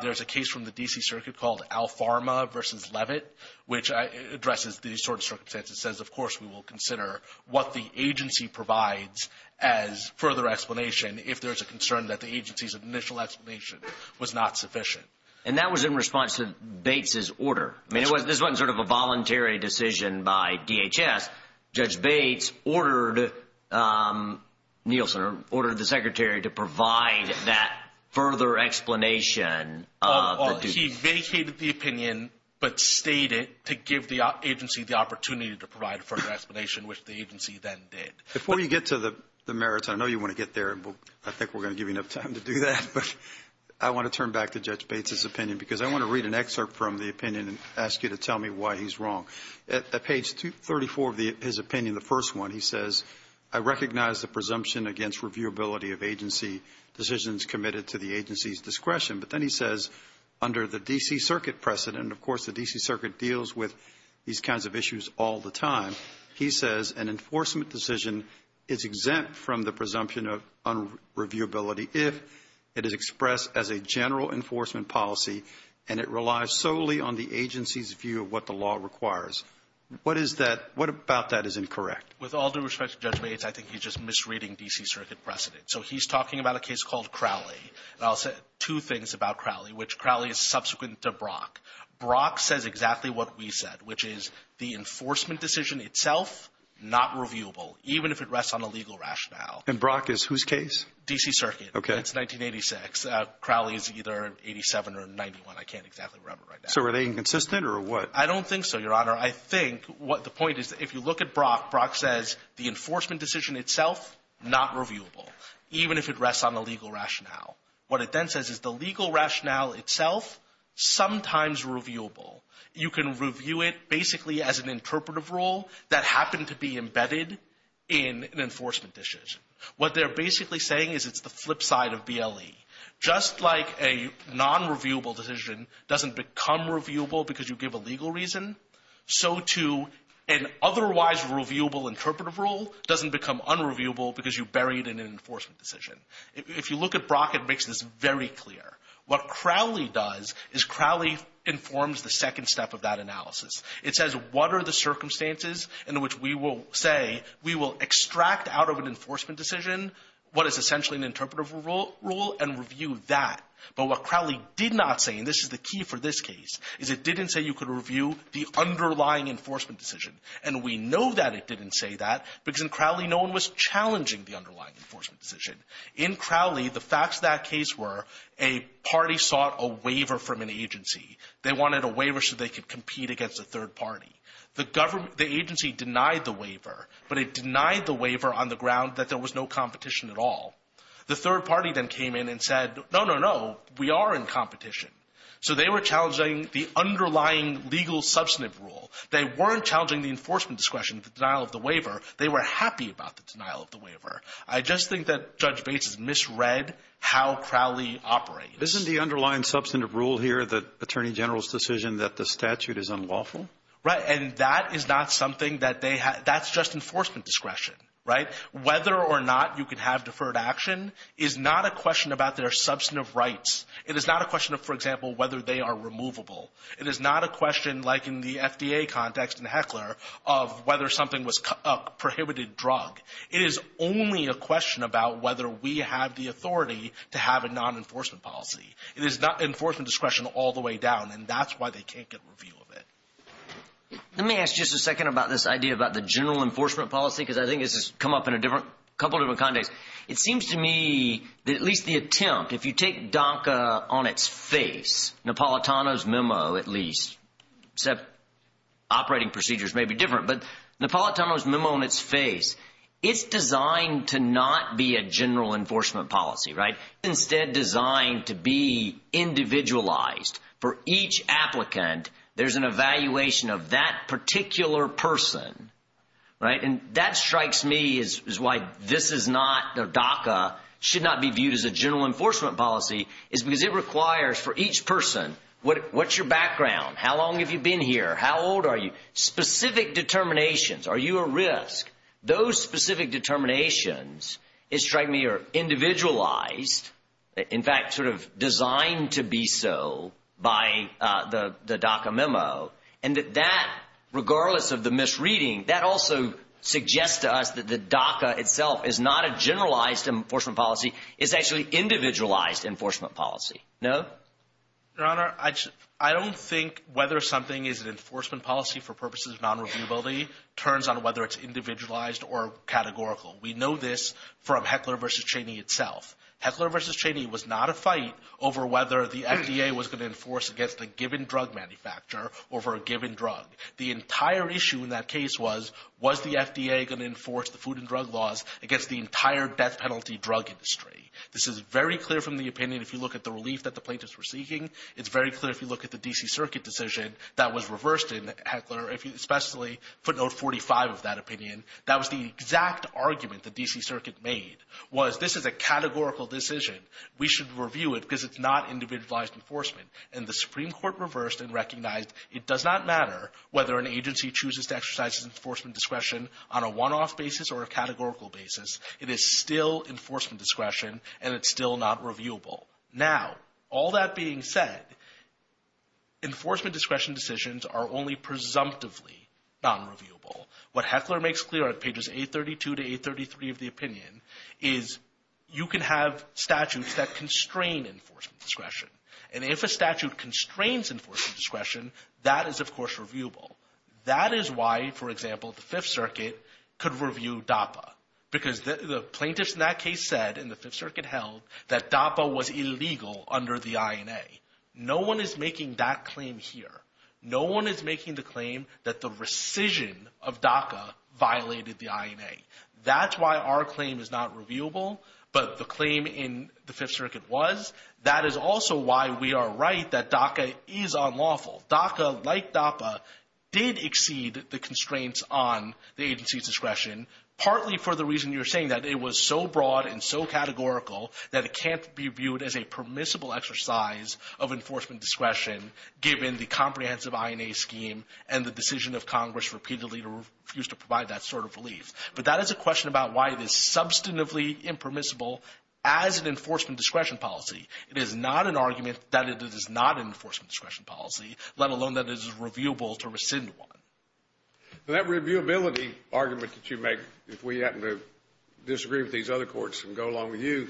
There's a case from the D.C. Circuit called Alfarma v. Levitt, which addresses these sorts of circumstances and says, of course, we will consider what the agency provides as further explanation if there's a concern that the agency's initial explanation was not sufficient. And that was in response to Bates' order. I mean, this wasn't sort of a voluntary decision by DHS. Judge Bates ordered the Secretary to provide that further explanation. He vindicated the opinion but stated to give the agency the opportunity to provide a further explanation, which the agency then did. Before you get to the merits, I know you want to get there. I think we're going to give you enough time to do that. But I want to turn back to Judge Bates' opinion because I want to read an excerpt from the opinion and ask you to tell me why he's wrong. At page 34 of his opinion, the first one, he says, I recognize the presumption against reviewability of agency decisions committed to the agency's discretion. But then he says, under the D.C. Circuit precedent, of course, the D.C. Circuit deals with these kinds of issues all the time. He says, an enforcement decision is exempt from the presumption of unreviewability if it is expressed as a general enforcement policy and it relies solely on the agency's view of what the law requires. What about that is incorrect? With all due respect to Judge Bates, I think he's just misreading D.C. Circuit precedent. So he's talking about a case called Crowley. And I'll say two things about Crowley, which Crowley is subsequent to Brock. Brock says exactly what we said, which is the enforcement decision itself, not reviewable, even if it rests on a legal rationale. And Brock is whose case? D.C. Circuit. It's 1986. Crowley is either 87 or 91. I can't exactly remember right now. So are they inconsistent or what? I don't think so, Your Honor. I think what the point is, if you look at Brock, Brock says the enforcement decision itself, not reviewable, even if it rests on a legal rationale. What it then says is the legal rationale itself, sometimes reviewable. You can review it basically as an interpretive rule that happened to be embedded in enforcement decisions. What they're basically saying is it's the flip side of BLE. Just like a nonreviewable decision doesn't become reviewable because you give a legal reason, so too an otherwise reviewable interpretive rule doesn't become unreviewable because you bury it in an enforcement decision. If you look at Brock, it makes this very clear. What Crowley does is Crowley informs the second step of that analysis. It says what are the circumstances in which we will say we will extract out of an enforcement decision what is essentially an interpretive rule and review that. But what Crowley did not say, and this is the key for this case, is it didn't say you could review the underlying enforcement decision. And we know that it didn't say that because in Crowley no one was challenging the underlying enforcement decision. In Crowley, the facts of that case were a party sought a waiver from an agency. They wanted a waiver so they could compete against a third party. The agency denied the waiver, but it denied the waiver on the ground that there was no competition at all. The third party then came in and said, no, no, no, we are in competition. So they were challenging the underlying legal substantive rule. They weren't challenging the enforcement discretion denial of the waiver. They were happy about the denial of the waiver. I just think that Judge Bates has misread how Crowley operates. Isn't the underlying substantive rule here the Attorney General's decision that the statute is unlawful? Right, and that is not something that they have. That's just enforcement discretion, right? Whether or not you can have deferred action is not a question about their substantive rights. It is not a question of, for example, whether they are removable. It is not a question, like in the FDA context in Heckler, of whether something was a prohibited drug. It is only a question about whether we have the authority to have a non-enforcement policy. It is not enforcement discretion all the way down, and that's why they can't get a review of it. Let me ask you just a second about this idea about the general enforcement policy, because I think this has come up in a couple of different contexts. It seems to me, at least the attempt, if you take DACA on its face, Napolitano's memo at least, except operating procedures may be different, but Napolitano's memo on its face, it's designed to not be a general enforcement policy, right? It's instead designed to be individualized. For each applicant, there's an evaluation of that particular person, right? That strikes me as why this is not, DACA should not be viewed as a general enforcement policy, because it requires for each person, what's your background? How long have you been here? How old are you? Specific determinations. Are you a risk? Those specific determinations, it strikes me, are individualized, in fact, sort of designed to be so by the DACA memo. And that that, regardless of the misreading, that also suggests to us that the DACA itself is not a generalized enforcement policy, it's actually individualized enforcement policy. No? Your Honor, I don't think whether something is an enforcement policy for purposes of non-reviewability turns on whether it's individualized or categorical. We know this from Heckler v. Cheney itself. Heckler v. Cheney was not a fight over whether the FDA was going to enforce against a given drug manufacturer or for a given drug. The entire issue in that case was, was the FDA going to enforce the food and drug laws against the entire death penalty drug industry? This is very clear from the opinion if you look at the relief that the plaintiffs were seeking. It's very clear if you look at the D.C. Circuit decision that was reversed in Heckler, especially put note 45 of that opinion. That was the exact argument the D.C. Circuit made, was this is a categorical decision. We should review it because it's not individualized enforcement. And the Supreme Court reversed and recognized it does not matter whether an agency chooses to exercise enforcement discretion on a one-off basis or a categorical basis. It is still enforcement discretion and it's still not reviewable. Now, all that being said, enforcement discretion decisions are only presumptively non-reviewable. What Heckler makes clear on pages 832 to 833 of the opinion is you can have statutes that constrain enforcement discretion. And if a statute constrains enforcement discretion, that is, of course, reviewable. That is why, for example, the Fifth Circuit could review DAPA because the plaintiffs in that case said and the Fifth Circuit held that DAPA was illegal under the INA. No one is making that claim here. No one is making the claim that the rescission of DACA violated the INA. That's why our claim is not reviewable, but the claim in the Fifth Circuit was. That is also why we are right that DACA is unlawful. DACA, like DAPA, did exceed the constraints on the agency's discretion, partly for the reason you were saying, that it was so broad and so categorical that it can't be viewed as a permissible exercise of enforcement discretion given the comprehensive INA scheme and the decision of Congress repeatedly to refuse to provide that sort of relief. But that is a question about why it is substantively impermissible as an enforcement discretion policy. It is not an argument that it is not an enforcement discretion policy, let alone that it is reviewable to rescind one. That reviewability argument that you make if we happen to disagree with these other courts and go along with you,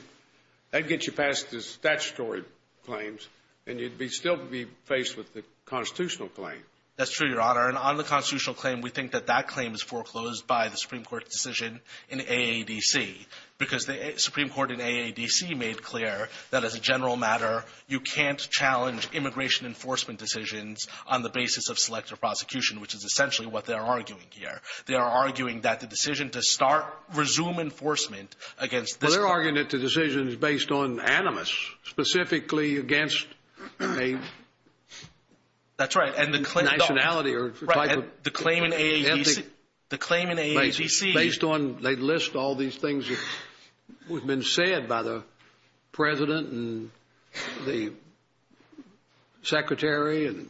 that gets you past the statutory claims and you'd still be faced with the constitutional claim. That's true, Your Honor. And on the constitutional claim, we think that that claim is foreclosed by the Supreme Court's decision in AADC because the Supreme Court in AADC made clear that, as a general matter, you can't challenge immigration enforcement decisions on the basis of selective prosecution, which is essentially what they're arguing here. They are arguing that the decision to start, resume enforcement against- They're arguing that the decision is based on animus, specifically against a- That's right. And the claim in AADC- The claim in AADC- Based on, they list all these things that have been said by the president and the secretary and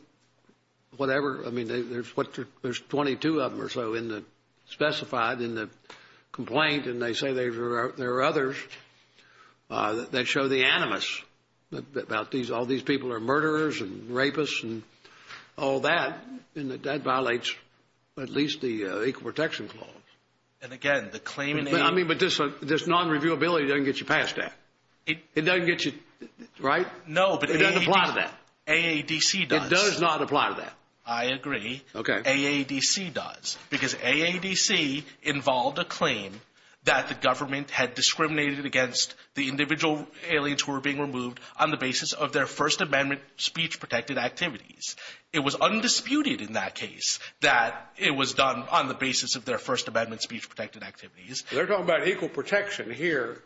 whatever. I mean, there's 22 of them or so specified in the complaint, and they say there are others that show the animus about all these people are murderers and rapists and all that, and that that violates at least the Equal Protection Clause. And again, the claim in AADC- I mean, but this non-reviewability doesn't get you past that. It doesn't get you- Right? No, but it doesn't apply to that. AADC does. It does not apply to that. I agree. Okay. Because AADC involved a claim that the government had discriminated against the individual aliens who were being removed on the basis of their First Amendment speech-protected activities. It was undisputed in that case that it was done on the basis of their First Amendment speech-protected activities. They're talking about equal protection here.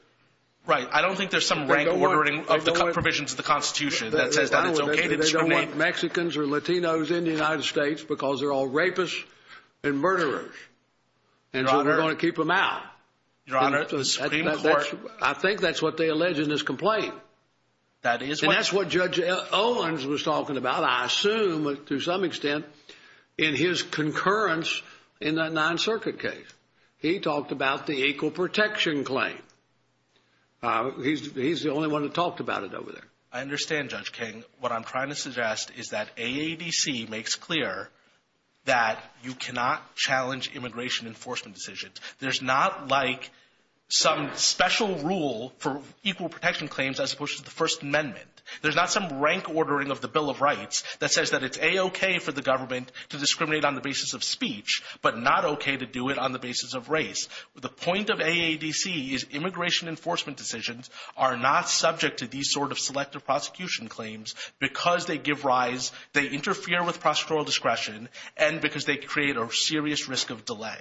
Right. I don't think there's some rank ordering of the provisions of the Constitution that it's okay to discriminate. I don't think Mexicans or Latinos in the United States, because they're all rapists and murderers, and so we're going to keep them out. Your Honor, the Supreme Court- I think that's what they allege in this complaint. That is what- And that's what Judge Owens was talking about, I assume to some extent, in his concurrence in that Ninth Circuit case. He talked about the equal protection claim. He's the only one that talked about it over there. I understand, Judge King. What I'm trying to suggest is that AADC makes clear that you cannot challenge immigration enforcement decisions. There's not, like, some special rule for equal protection claims as opposed to the First Amendment. There's not some rank ordering of the Bill of Rights that says that it's A-okay for the government to discriminate on the basis of speech, but not okay to do it on the basis of race. The point of AADC is immigration enforcement decisions are not subject to these sort of selective prosecution claims because they give rise, they interfere with prosecutorial discretion, and because they create a serious risk of delay.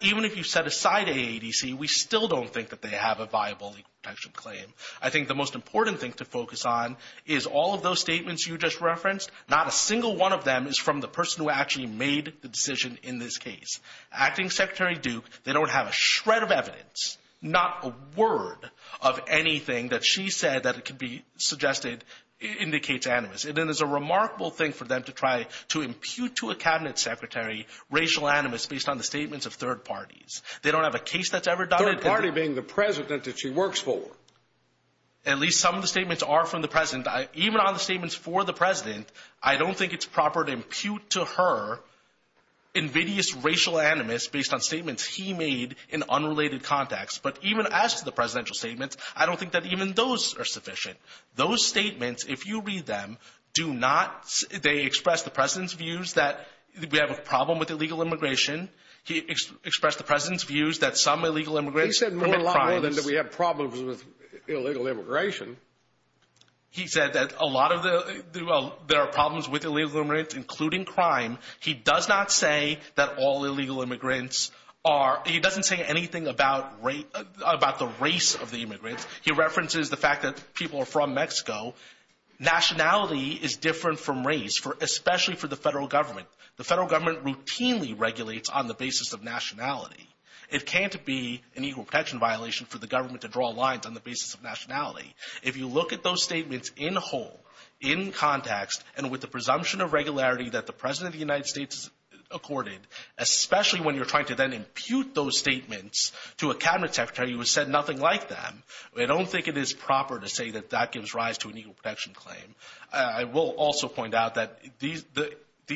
Even if you set aside AADC, we still don't think that they have a viable equal protection claim. I think the most important thing to focus on is all of those statements you just referenced. Not a single one of them is from the person who actually made the decision in this case. Acting Secretary Duke, they don't have a shred of evidence, not a word of anything that she said that could be suggested indicates animus. And then there's a remarkable thing for them to try to impute to a cabinet secretary racial animus based on the statements of third parties. They don't have a case that's ever done it. Third party being the president that she works for. At least some of the statements are from the president. Even on the statements for the president, I don't think it's proper to impute to her invidious racial animus based on statements he made in unrelated context. But even as to the presidential statements, I don't think that even those are sufficient. Those statements, if you read them, do not – they express the president's views that we have a problem with illegal immigration. He expressed the president's views that some illegal immigrants – He said more than that we have problems with illegal immigration. He said that a lot of the – well, there are problems with illegal immigrants, including crime. He does not say that all illegal immigrants are – he doesn't say anything about the race of the immigrants. He references the fact that people are from Mexico. Nationality is different from race, especially for the federal government. The federal government routinely regulates on the basis of nationality. It can't be an equal protection violation for the government to draw lines on the basis of nationality. If you look at those statements in whole, in context, and with the presumption of regularity that the president of the United States accorded, especially when you're trying to then impute those statements to a cabinet secretary who has said nothing like that, I don't think it is proper to say that that gives rise to an equal protection claim. I will also point out that these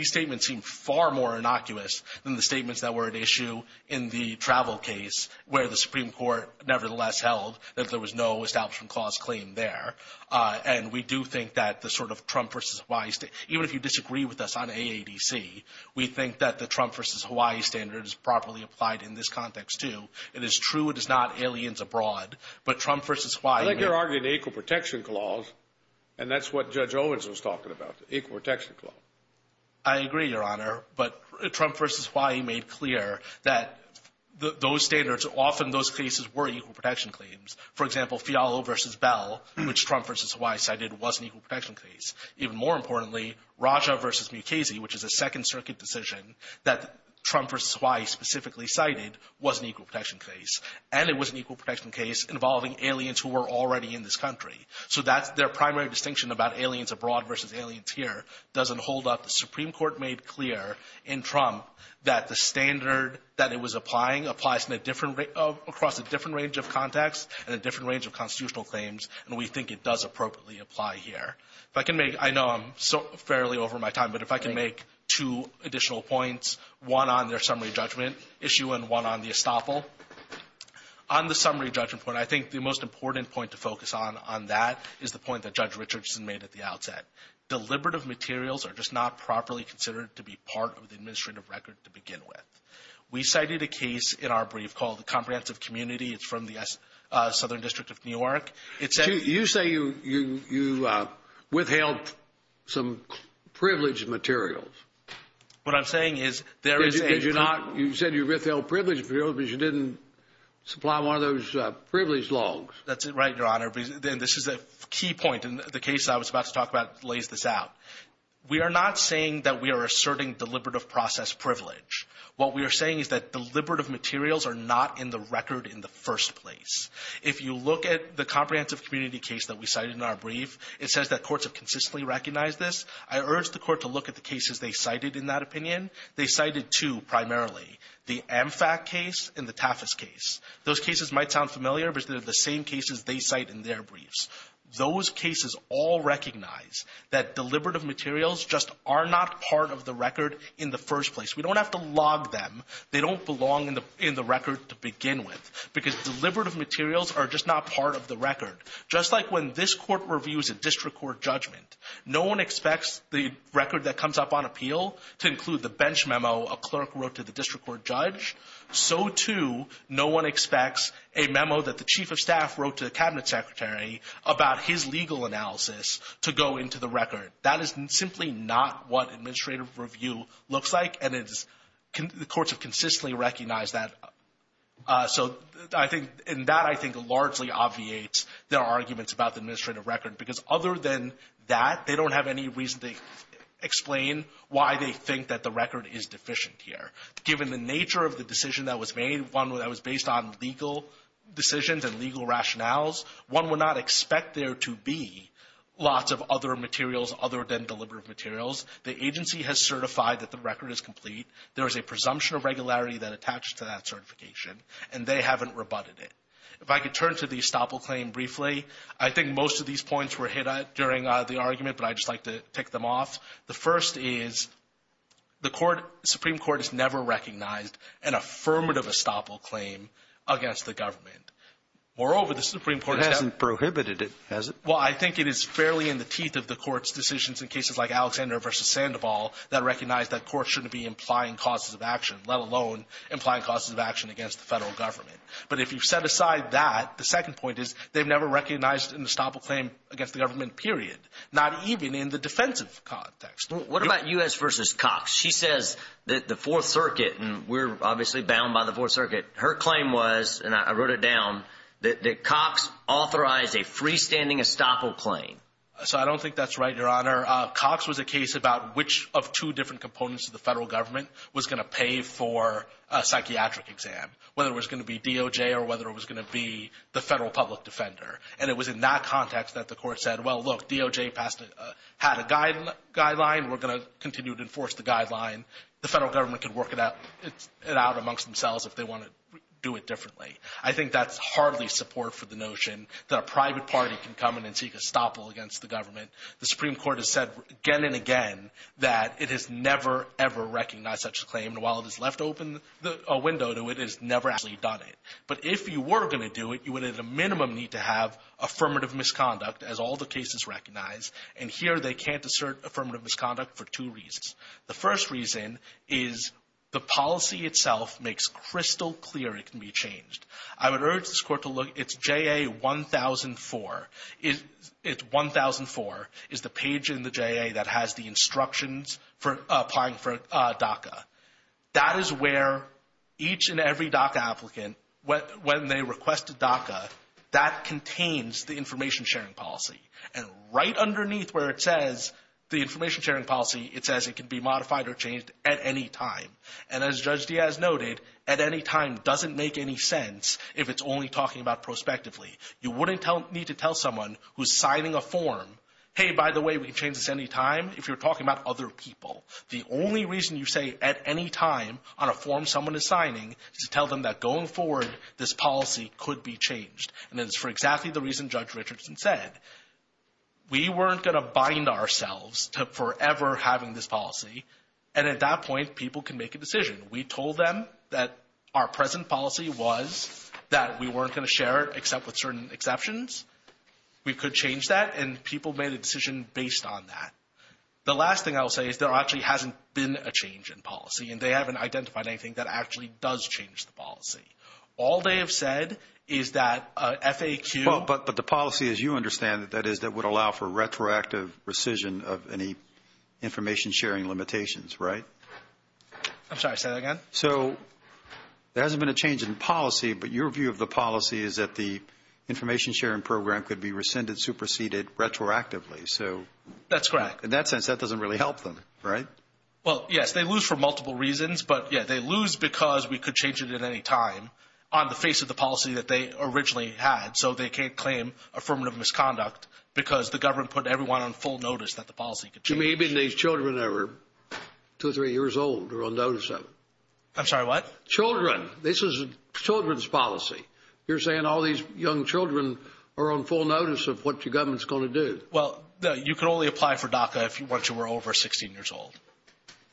statements seem far more innocuous than the statements that were at issue in the travel case, where the Supreme Court nevertheless held that there was no establishment clause claim there. And we do think that the sort of Trump versus Hawaii – even if you disagree with us on AADC, we think that the Trump versus Hawaii standard is properly applied in this context, too. It is true it is not aliens abroad, but Trump versus Hawaii – I think you're arguing the equal protection clause, and that's what Judge Owens was talking about, the equal protection clause. I agree, Your Honor, but Trump versus Hawaii made clear that those standards – often those cases were equal protection claims. For example, Fialo versus Bell, which Trump versus Hawaii cited, was an equal protection case. Even more importantly, Raja versus Mukasey, which is a Second Circuit decision that Trump versus Hawaii specifically cited, was an equal protection case. And it was an equal protection case involving aliens who were already in this country. So their primary distinction about aliens abroad versus aliens here doesn't hold up. The Supreme Court made clear in Trump that the standard that it was applying applies across a different range of context and a different range of constitutional claims, and we think it does appropriately apply here. I know I'm fairly over my time, but if I can make two additional points, one on their summary judgment issue and one on the estoppel. On the summary judgment point, I think the most important point to focus on on that is the point that Judge Richardson made at the outset. Deliberative materials are just not properly considered to be part of the administrative record to begin with. We cited a case in our brief called the Comprehensive Community. It's from the Southern District of New York. You say you withheld some privileged materials. What I'm saying is there is not... You said you withheld privileged materials, but you didn't supply one of those privileged loans. That's right, Your Honor. This is a key point, and the case I was about to talk about lays this out. We are not saying that we are asserting deliberative process privilege. What we are saying is that deliberative materials are not in the record in the first place. If you look at the Comprehensive Community case that we cited in our brief, it says that courts have consistently recognized this. I urge the court to look at the cases they cited in that opinion. They cited two primarily, the MFAT case and the TAFIS case. Those cases might sound familiar, but they're the same cases they cite in their briefs. Those cases all recognize that deliberative materials just are not part of the record in the first place. We don't have to log them. They don't belong in the record to begin with because deliberative materials are just not part of the record. Just like when this court reviews a district court judgment, no one expects the record that comes up on appeal to include the bench memo a clerk wrote to the district court judge. So, too, no one expects a memo that the chief of staff wrote to the cabinet secretary about his legal analysis to go into the record. That is simply not what administrative review looks like, and the courts have consistently recognized that. That, I think, largely obviates their arguments about the administrative record because other than that, they don't have any reason to explain why they think that the record is deficient here. Given the nature of the decision that was made, one that was based on legal decisions and legal rationales, one would not expect there to be lots of other materials other than deliberative materials. The agency has certified that the record is complete. There is a presumption of regularity that attaches to that certification, and they haven't rebutted it. If I could turn to the estoppel claim briefly, I think most of these points were hit during the argument, but I'd just like to tick them off. The first is the Supreme Court has never recognized an affirmative estoppel claim against the government. Moreover, the Supreme Court— It hasn't prohibited it, has it? Well, I think it is fairly in the teeth of the court's decisions in cases like Alexander v. Sandoval that recognize that courts shouldn't be implying causes of action, let alone implying causes of action against the federal government. But if you set aside that, the second point is they've never recognized an estoppel claim against the government, period, not even in the defensive context. What about U.S. v. Cox? She says that the Fourth Circuit—and we're obviously bound by the Fourth Circuit— her claim was, and I wrote it down, that Cox authorized a freestanding estoppel claim. So I don't think that's right, Your Honor. Cox was a case about which of two different components of the federal government was going to pay for a psychiatric exam, whether it was going to be DOJ or whether it was going to be the federal public defender. And it was in that context that the court said, well, look, DOJ had a guideline. We're going to continue to enforce the guideline. The federal government can work it out amongst themselves if they want to do it differently. I think that's hardly support for the notion that a private party can come in and seek estoppel against the government. The Supreme Court has said again and again that it has never, ever recognized such a claim, and while it has left open a window to it, it has never actually done it. But if you were going to do it, you would at a minimum need to have affirmative misconduct, as all the cases recognize, and here they can't assert affirmative misconduct for two reasons. The first reason is the policy itself makes crystal clear it can be changed. I would urge this court to look. It's JA 1004. It's 1004. It's the page in the JA that has the instructions for applying for DACA. That is where each and every DACA applicant, when they request a DACA, that contains the information sharing policy. And right underneath where it says the information sharing policy, it says it can be modified or changed at any time. And as Judge Diaz noted, at any time doesn't make any sense if it's only talking about prospectively. You wouldn't need to tell someone who's signing a form, hey, by the way, we can change this at any time, if you're talking about other people. The only reason you say at any time on a form someone is signing is to tell them that going forward, this policy could be changed. And it's for exactly the reason Judge Richardson said. We weren't going to bind ourselves to forever having this policy, and at that point, people can make a decision. We told them that our present policy was that we weren't going to share it except with certain exceptions. We could change that, and people made a decision based on that. The last thing I'll say is there actually hasn't been a change in policy, and they haven't identified anything that actually does change the policy. All they have said is that FAQ. But the policy, as you understand it, that is that would allow for retroactive rescission of any information sharing limitations, right? I'm sorry, say that again? So there hasn't been a change in policy, but your view of the policy is that the information sharing program could be rescinded, superseded retroactively. That's correct. In that sense, that doesn't really help them, right? Well, yes, they lose for multiple reasons. But, yes, they lose because we could change it at any time on the face of the policy that they originally had. So they can't claim affirmative misconduct because the government put everyone on full notice that the policy could change. Maybe these children that are two or three years old are on notice of it. I'm sorry, what? Children. This is a children's policy. You're saying all these young children are on full notice of what the government is going to do. Well, you can only apply for DACA if you were over 16 years old.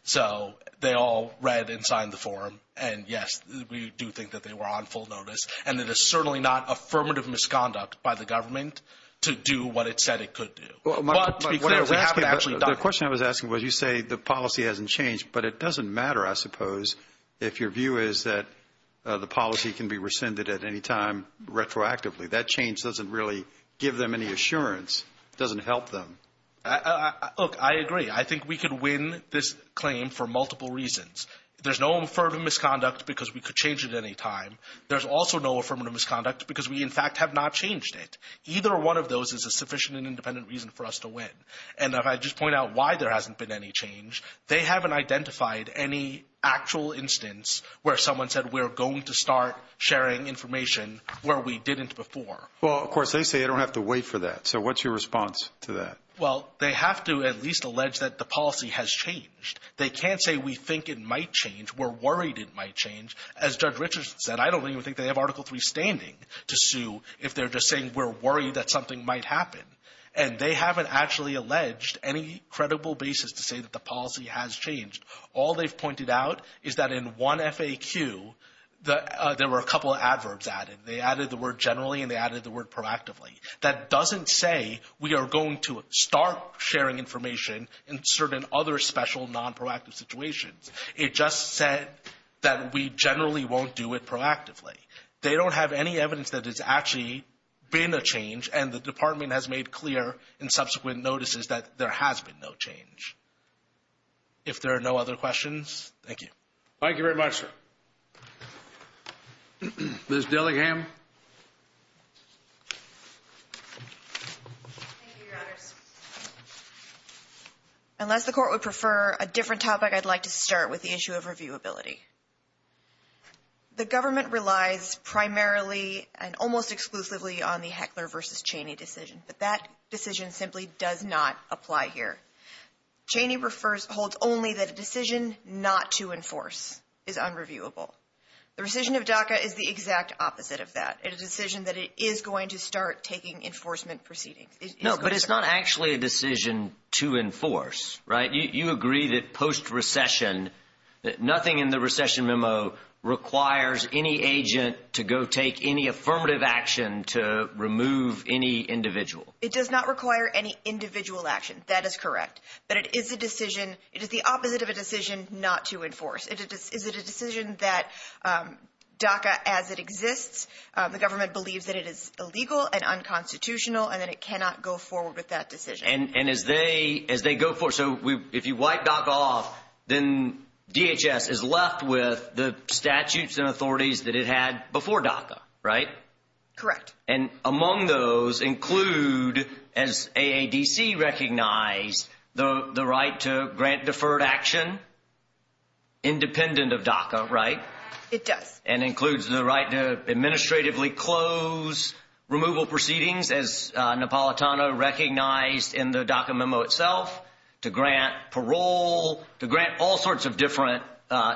So they all read and signed the form. And, yes, we do think that they were on full notice. And it is certainly not affirmative misconduct by the government to do what it said it could do. The question I was asking was you say the policy hasn't changed, but it doesn't matter, I suppose, if your view is that the policy can be rescinded at any time retroactively. That change doesn't really give them any assurance. It doesn't help them. Look, I agree. I think we could win this claim for multiple reasons. There's no affirmative misconduct because we could change it at any time. There's also no affirmative misconduct because we, in fact, have not changed it. Either one of those is a sufficient and independent reason for us to win. And if I just point out why there hasn't been any change, they haven't identified any actual instance where someone said we're going to start sharing information where we didn't before. Well, of course, they say they don't have to wait for that. So what's your response to that? Well, they have to at least allege that the policy has changed. They can't say we think it might change, we're worried it might change. As Judge Richards said, I don't even think they have Article III standing to sue if they're just saying we're worried that something might happen. And they haven't actually alleged any credible basis to say that the policy has changed. All they've pointed out is that in one FAQ there were a couple of adverbs added. They added the word generally and they added the word proactively. That doesn't say we are going to start sharing information in certain other special nonproactive situations. It just said that we generally won't do it proactively. They don't have any evidence that it's actually been a change, and the department has made clear in subsequent notices that there has been no change. If there are no other questions, thank you. Thank you very much, sir. Liz Dillingham. Unless the court would prefer a different topic, I'd like to start with the issue of reviewability. The government relies primarily and almost exclusively on the Heckler v. Cheney decision, but that decision simply does not apply here. Cheney holds only that a decision not to enforce is unreviewable. The rescission of DACA is the exact opposite of that. It is a decision that it is going to start taking enforcement proceedings. No, but it's not actually a decision to enforce, right? You agree that post-recession that nothing in the recession memo requires any agent to go take any affirmative action to remove any individual. It does not require any individual action. That is correct. But it is a decision. It is the opposite of a decision not to enforce. It is a decision that DACA as it exists, the government believes that it is illegal and unconstitutional and that it cannot go forward with that decision. If you wipe DACA off, then DHS is left with the statutes and authorities that it had before DACA, right? Correct. Among those include, as AADC recognized, the right to grant deferred action independent of DACA, right? It does. And includes the right to administratively close removal proceedings, as Napolitano recognized in the DACA memo itself, to grant parole, to grant all sorts of different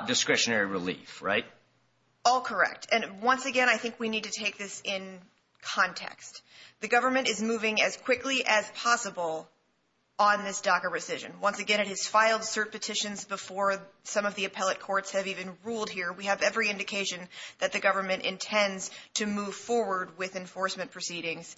discretionary relief, right? All correct. And once again, I think we need to take this in context. The government is moving as quickly as possible on this DACA rescission. Once again, it has filed cert petitions before some of the appellate courts have even ruled here. We have every indication that the government intends to move forward with enforcement proceedings,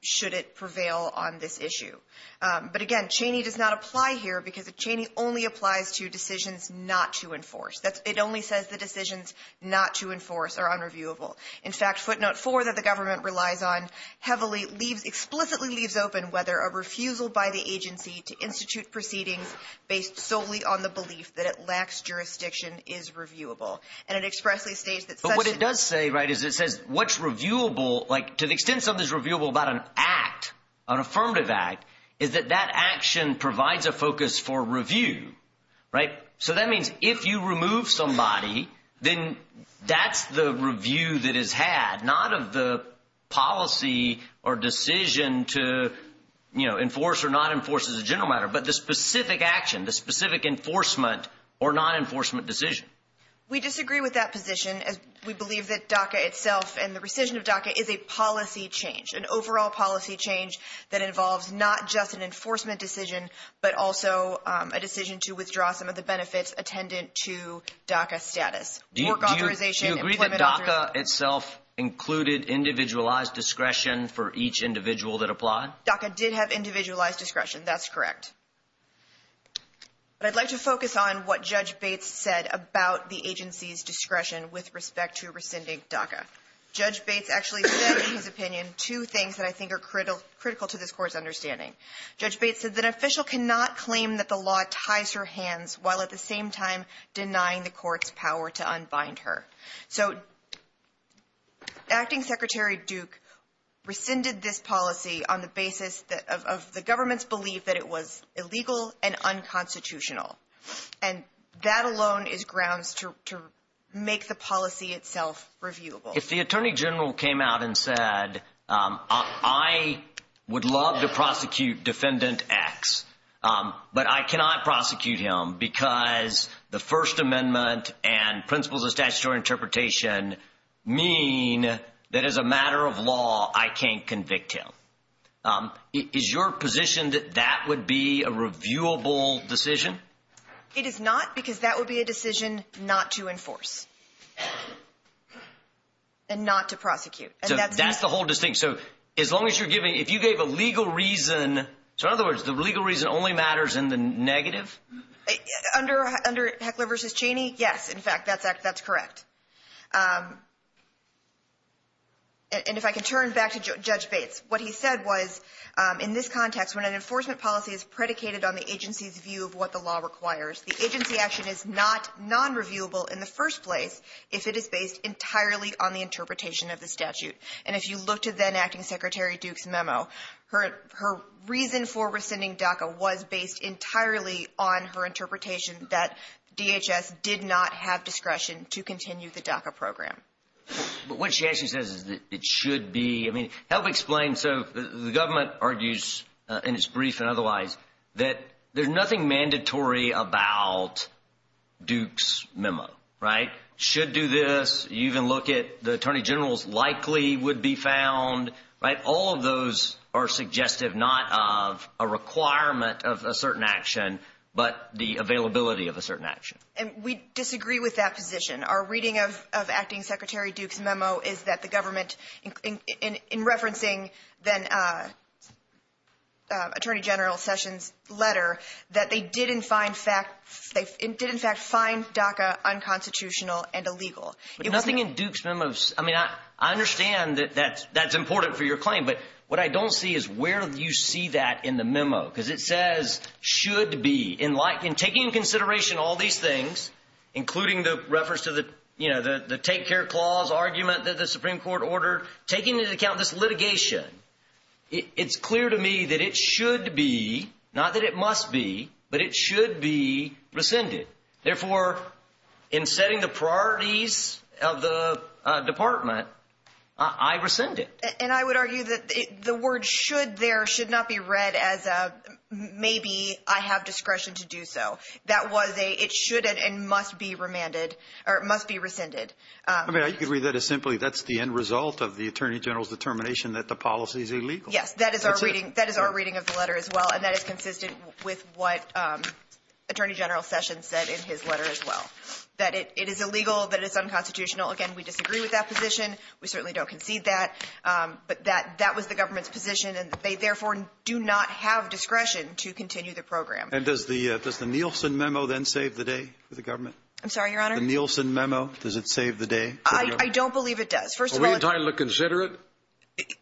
should it prevail on this issue. But again, Cheney does not apply here because Cheney only applies to decisions not to enforce. It only says the decisions not to enforce are unreviewable. In fact, footnote four that the government relies on heavily explicitly leaves open whether a refusal by the agency to institute proceedings based solely on the belief that it lacks jurisdiction is reviewable. And it expressly states that such a – But what it does say, right, is it says what's reviewable, like to the extent something's reviewable about an act, an affirmative act, is that that action provides a focus for review, right? So that means if you remove somebody, then that's the review that is had, not of the policy or decision to enforce or not enforce as a general matter, but the specific action, the specific enforcement or non-enforcement decision. We disagree with that position. We believe that DACA itself and the rescission of DACA is a policy change, an overall policy change that involves not just an enforcement decision but also a decision to withdraw some of the benefits attendant to DACA status. Do you agree that DACA itself included individualized discretion for each individual that applied? DACA did have individualized discretion. That's correct. But I'd like to focus on what Judge Bates said about the agency's discretion with respect to rescinding DACA. Judge Bates actually said in his opinion two things that I think are critical to this Court's understanding. Judge Bates said that an official cannot claim that the law ties her hands while at the same time denying the Court's power to unbind her. So Acting Secretary Duke rescinded this policy on the basis of the government's belief that it was illegal and unconstitutional, and that alone is grounds to make the policy itself reviewable. If the Attorney General came out and said, I would love to prosecute Defendant X, but I cannot prosecute him because the First Amendment and principles of statutory interpretation mean that as a matter of law I can't convict him, is your position that that would be a reviewable decision? It is not because that would be a decision not to enforce and not to prosecute. That's the whole distinction. So in other words, the legal reason only matters in the negative? Under Heckler v. Cheney, yes, in fact, that's correct. And if I can turn back to Judge Bates, what he said was, in this context, when an enforcement policy is predicated on the agency's view of what the law requires, the agency action is not non-reviewable in the first place if it is based entirely on the interpretation of the statute. And if you look to then-Acting Secretary Duke's memo, her reason for rescinding DACA was based entirely on her interpretation that DHS did not have discretion to continue the DACA program. But what she actually says is that it should be. I mean, help explain. So the government argues, in its brief and otherwise, that there's nothing mandatory about Duke's memo, right? Should do this. You can look at the Attorney General's likely would be found. All of those are suggestive, not of a requirement of a certain action, but the availability of a certain action. And we disagree with that position. Our reading of Acting Secretary Duke's memo is that the government, in referencing then Attorney General Sessions' letter, that they did, in fact, find DACA unconstitutional and illegal. But nothing in Duke's memo – I mean, I understand that that's important for your claim, but what I don't see is where you see that in the memo. Because it says, should be, in taking into consideration all these things, including the reference to the take-care clause argument that the Supreme Court ordered, taking into account this litigation, it's clear to me that it should be, not that it must be, but it should be rescinded. Therefore, in setting the priorities of the department, I rescind it. And I would argue that the word should there should not be read as maybe I have discretion to do so. That was a – it should and must be remanded – or it must be rescinded. I mean, I agree that is simply – that's the end result of the Attorney General's determination that the policy is illegal. Yes, that is our reading of the letter as well, and that is consistent with what Attorney General Sessions said in his letter as well. That it is illegal, that it's unconstitutional. Again, we disagree with that position. We certainly don't concede that. But that was the government's position, and they therefore do not have discretion to continue the program. And does the Nielsen memo then save the day for the government? I'm sorry, Your Honor? The Nielsen memo, does it save the day? I don't believe it does. Are we entitled to consider it?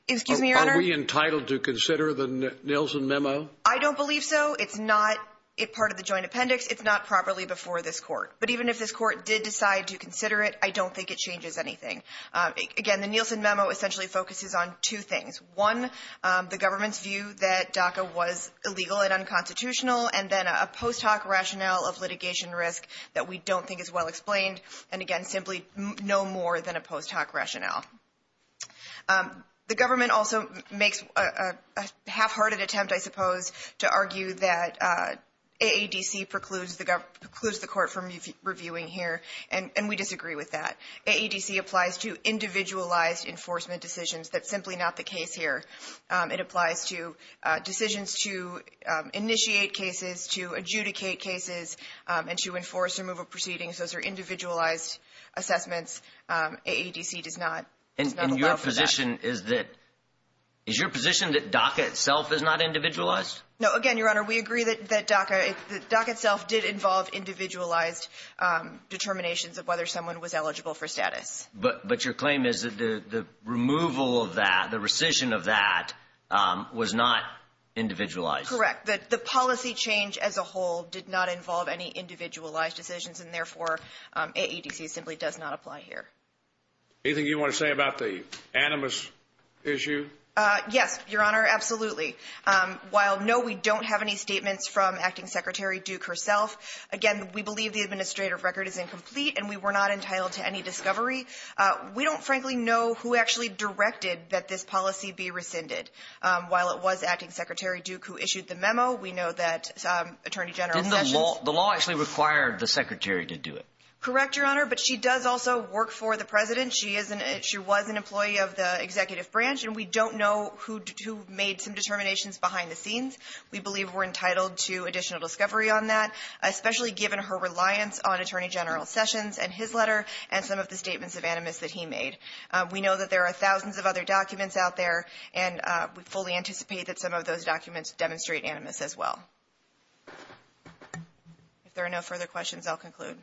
Excuse me, Your Honor? Are we entitled to consider the Nielsen memo? I don't believe so. It's not part of the joint appendix. It's not properly before this court. But even if this court did decide to consider it, I don't think it changes anything. Again, the Nielsen memo essentially focuses on two things. One, the government's view that DACA was illegal and unconstitutional. And then a post hoc rationale of litigation risk that we don't think is well explained. And, again, simply no more than a post hoc rationale. The government also makes a half-hearted attempt, I suppose, to argue that AADC precludes the court from reviewing here. And we disagree with that. AADC applies to individualized enforcement decisions. That's simply not the case here. It applies to decisions to initiate cases, to adjudicate cases, and to enforce removal proceedings. Those are individualized assessments. AADC does not allow for that. And your position is that DACA itself is not individualized? No, again, Your Honor, we agree that DACA itself did involve individualized determinations of whether someone was eligible for status. But your claim is that the removal of that, the rescission of that, was not individualized? Correct. The policy change as a whole did not involve any individualized decisions, and, therefore, AADC simply does not apply here. Anything you want to say about the animus issue? Yes, Your Honor, absolutely. While, no, we don't have any statements from Acting Secretary Duke herself, again, we believe the administrative record is incomplete, and we were not entitled to any discovery. We don't, frankly, know who actually directed that this policy be rescinded. While it was Acting Secretary Duke who issued the memo, we know that Attorney General… Didn't the law actually require the Secretary to do it? Correct, Your Honor, but she does also work for the President. She was an employee of the Executive Branch, and we don't know who made some determinations behind the scenes. We believe we're entitled to additional discovery on that, especially given her reliance on Attorney General Sessions and his letter and some of the statements of animus that he made. We know that there are thousands of other documents out there, and we fully anticipate that some of those documents demonstrate animus as well. If there are no further questions, I'll conclude.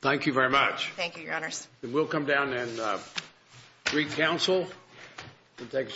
Thank you very much. Thank you, Your Honors. We'll come down and re-counsel and take a short break.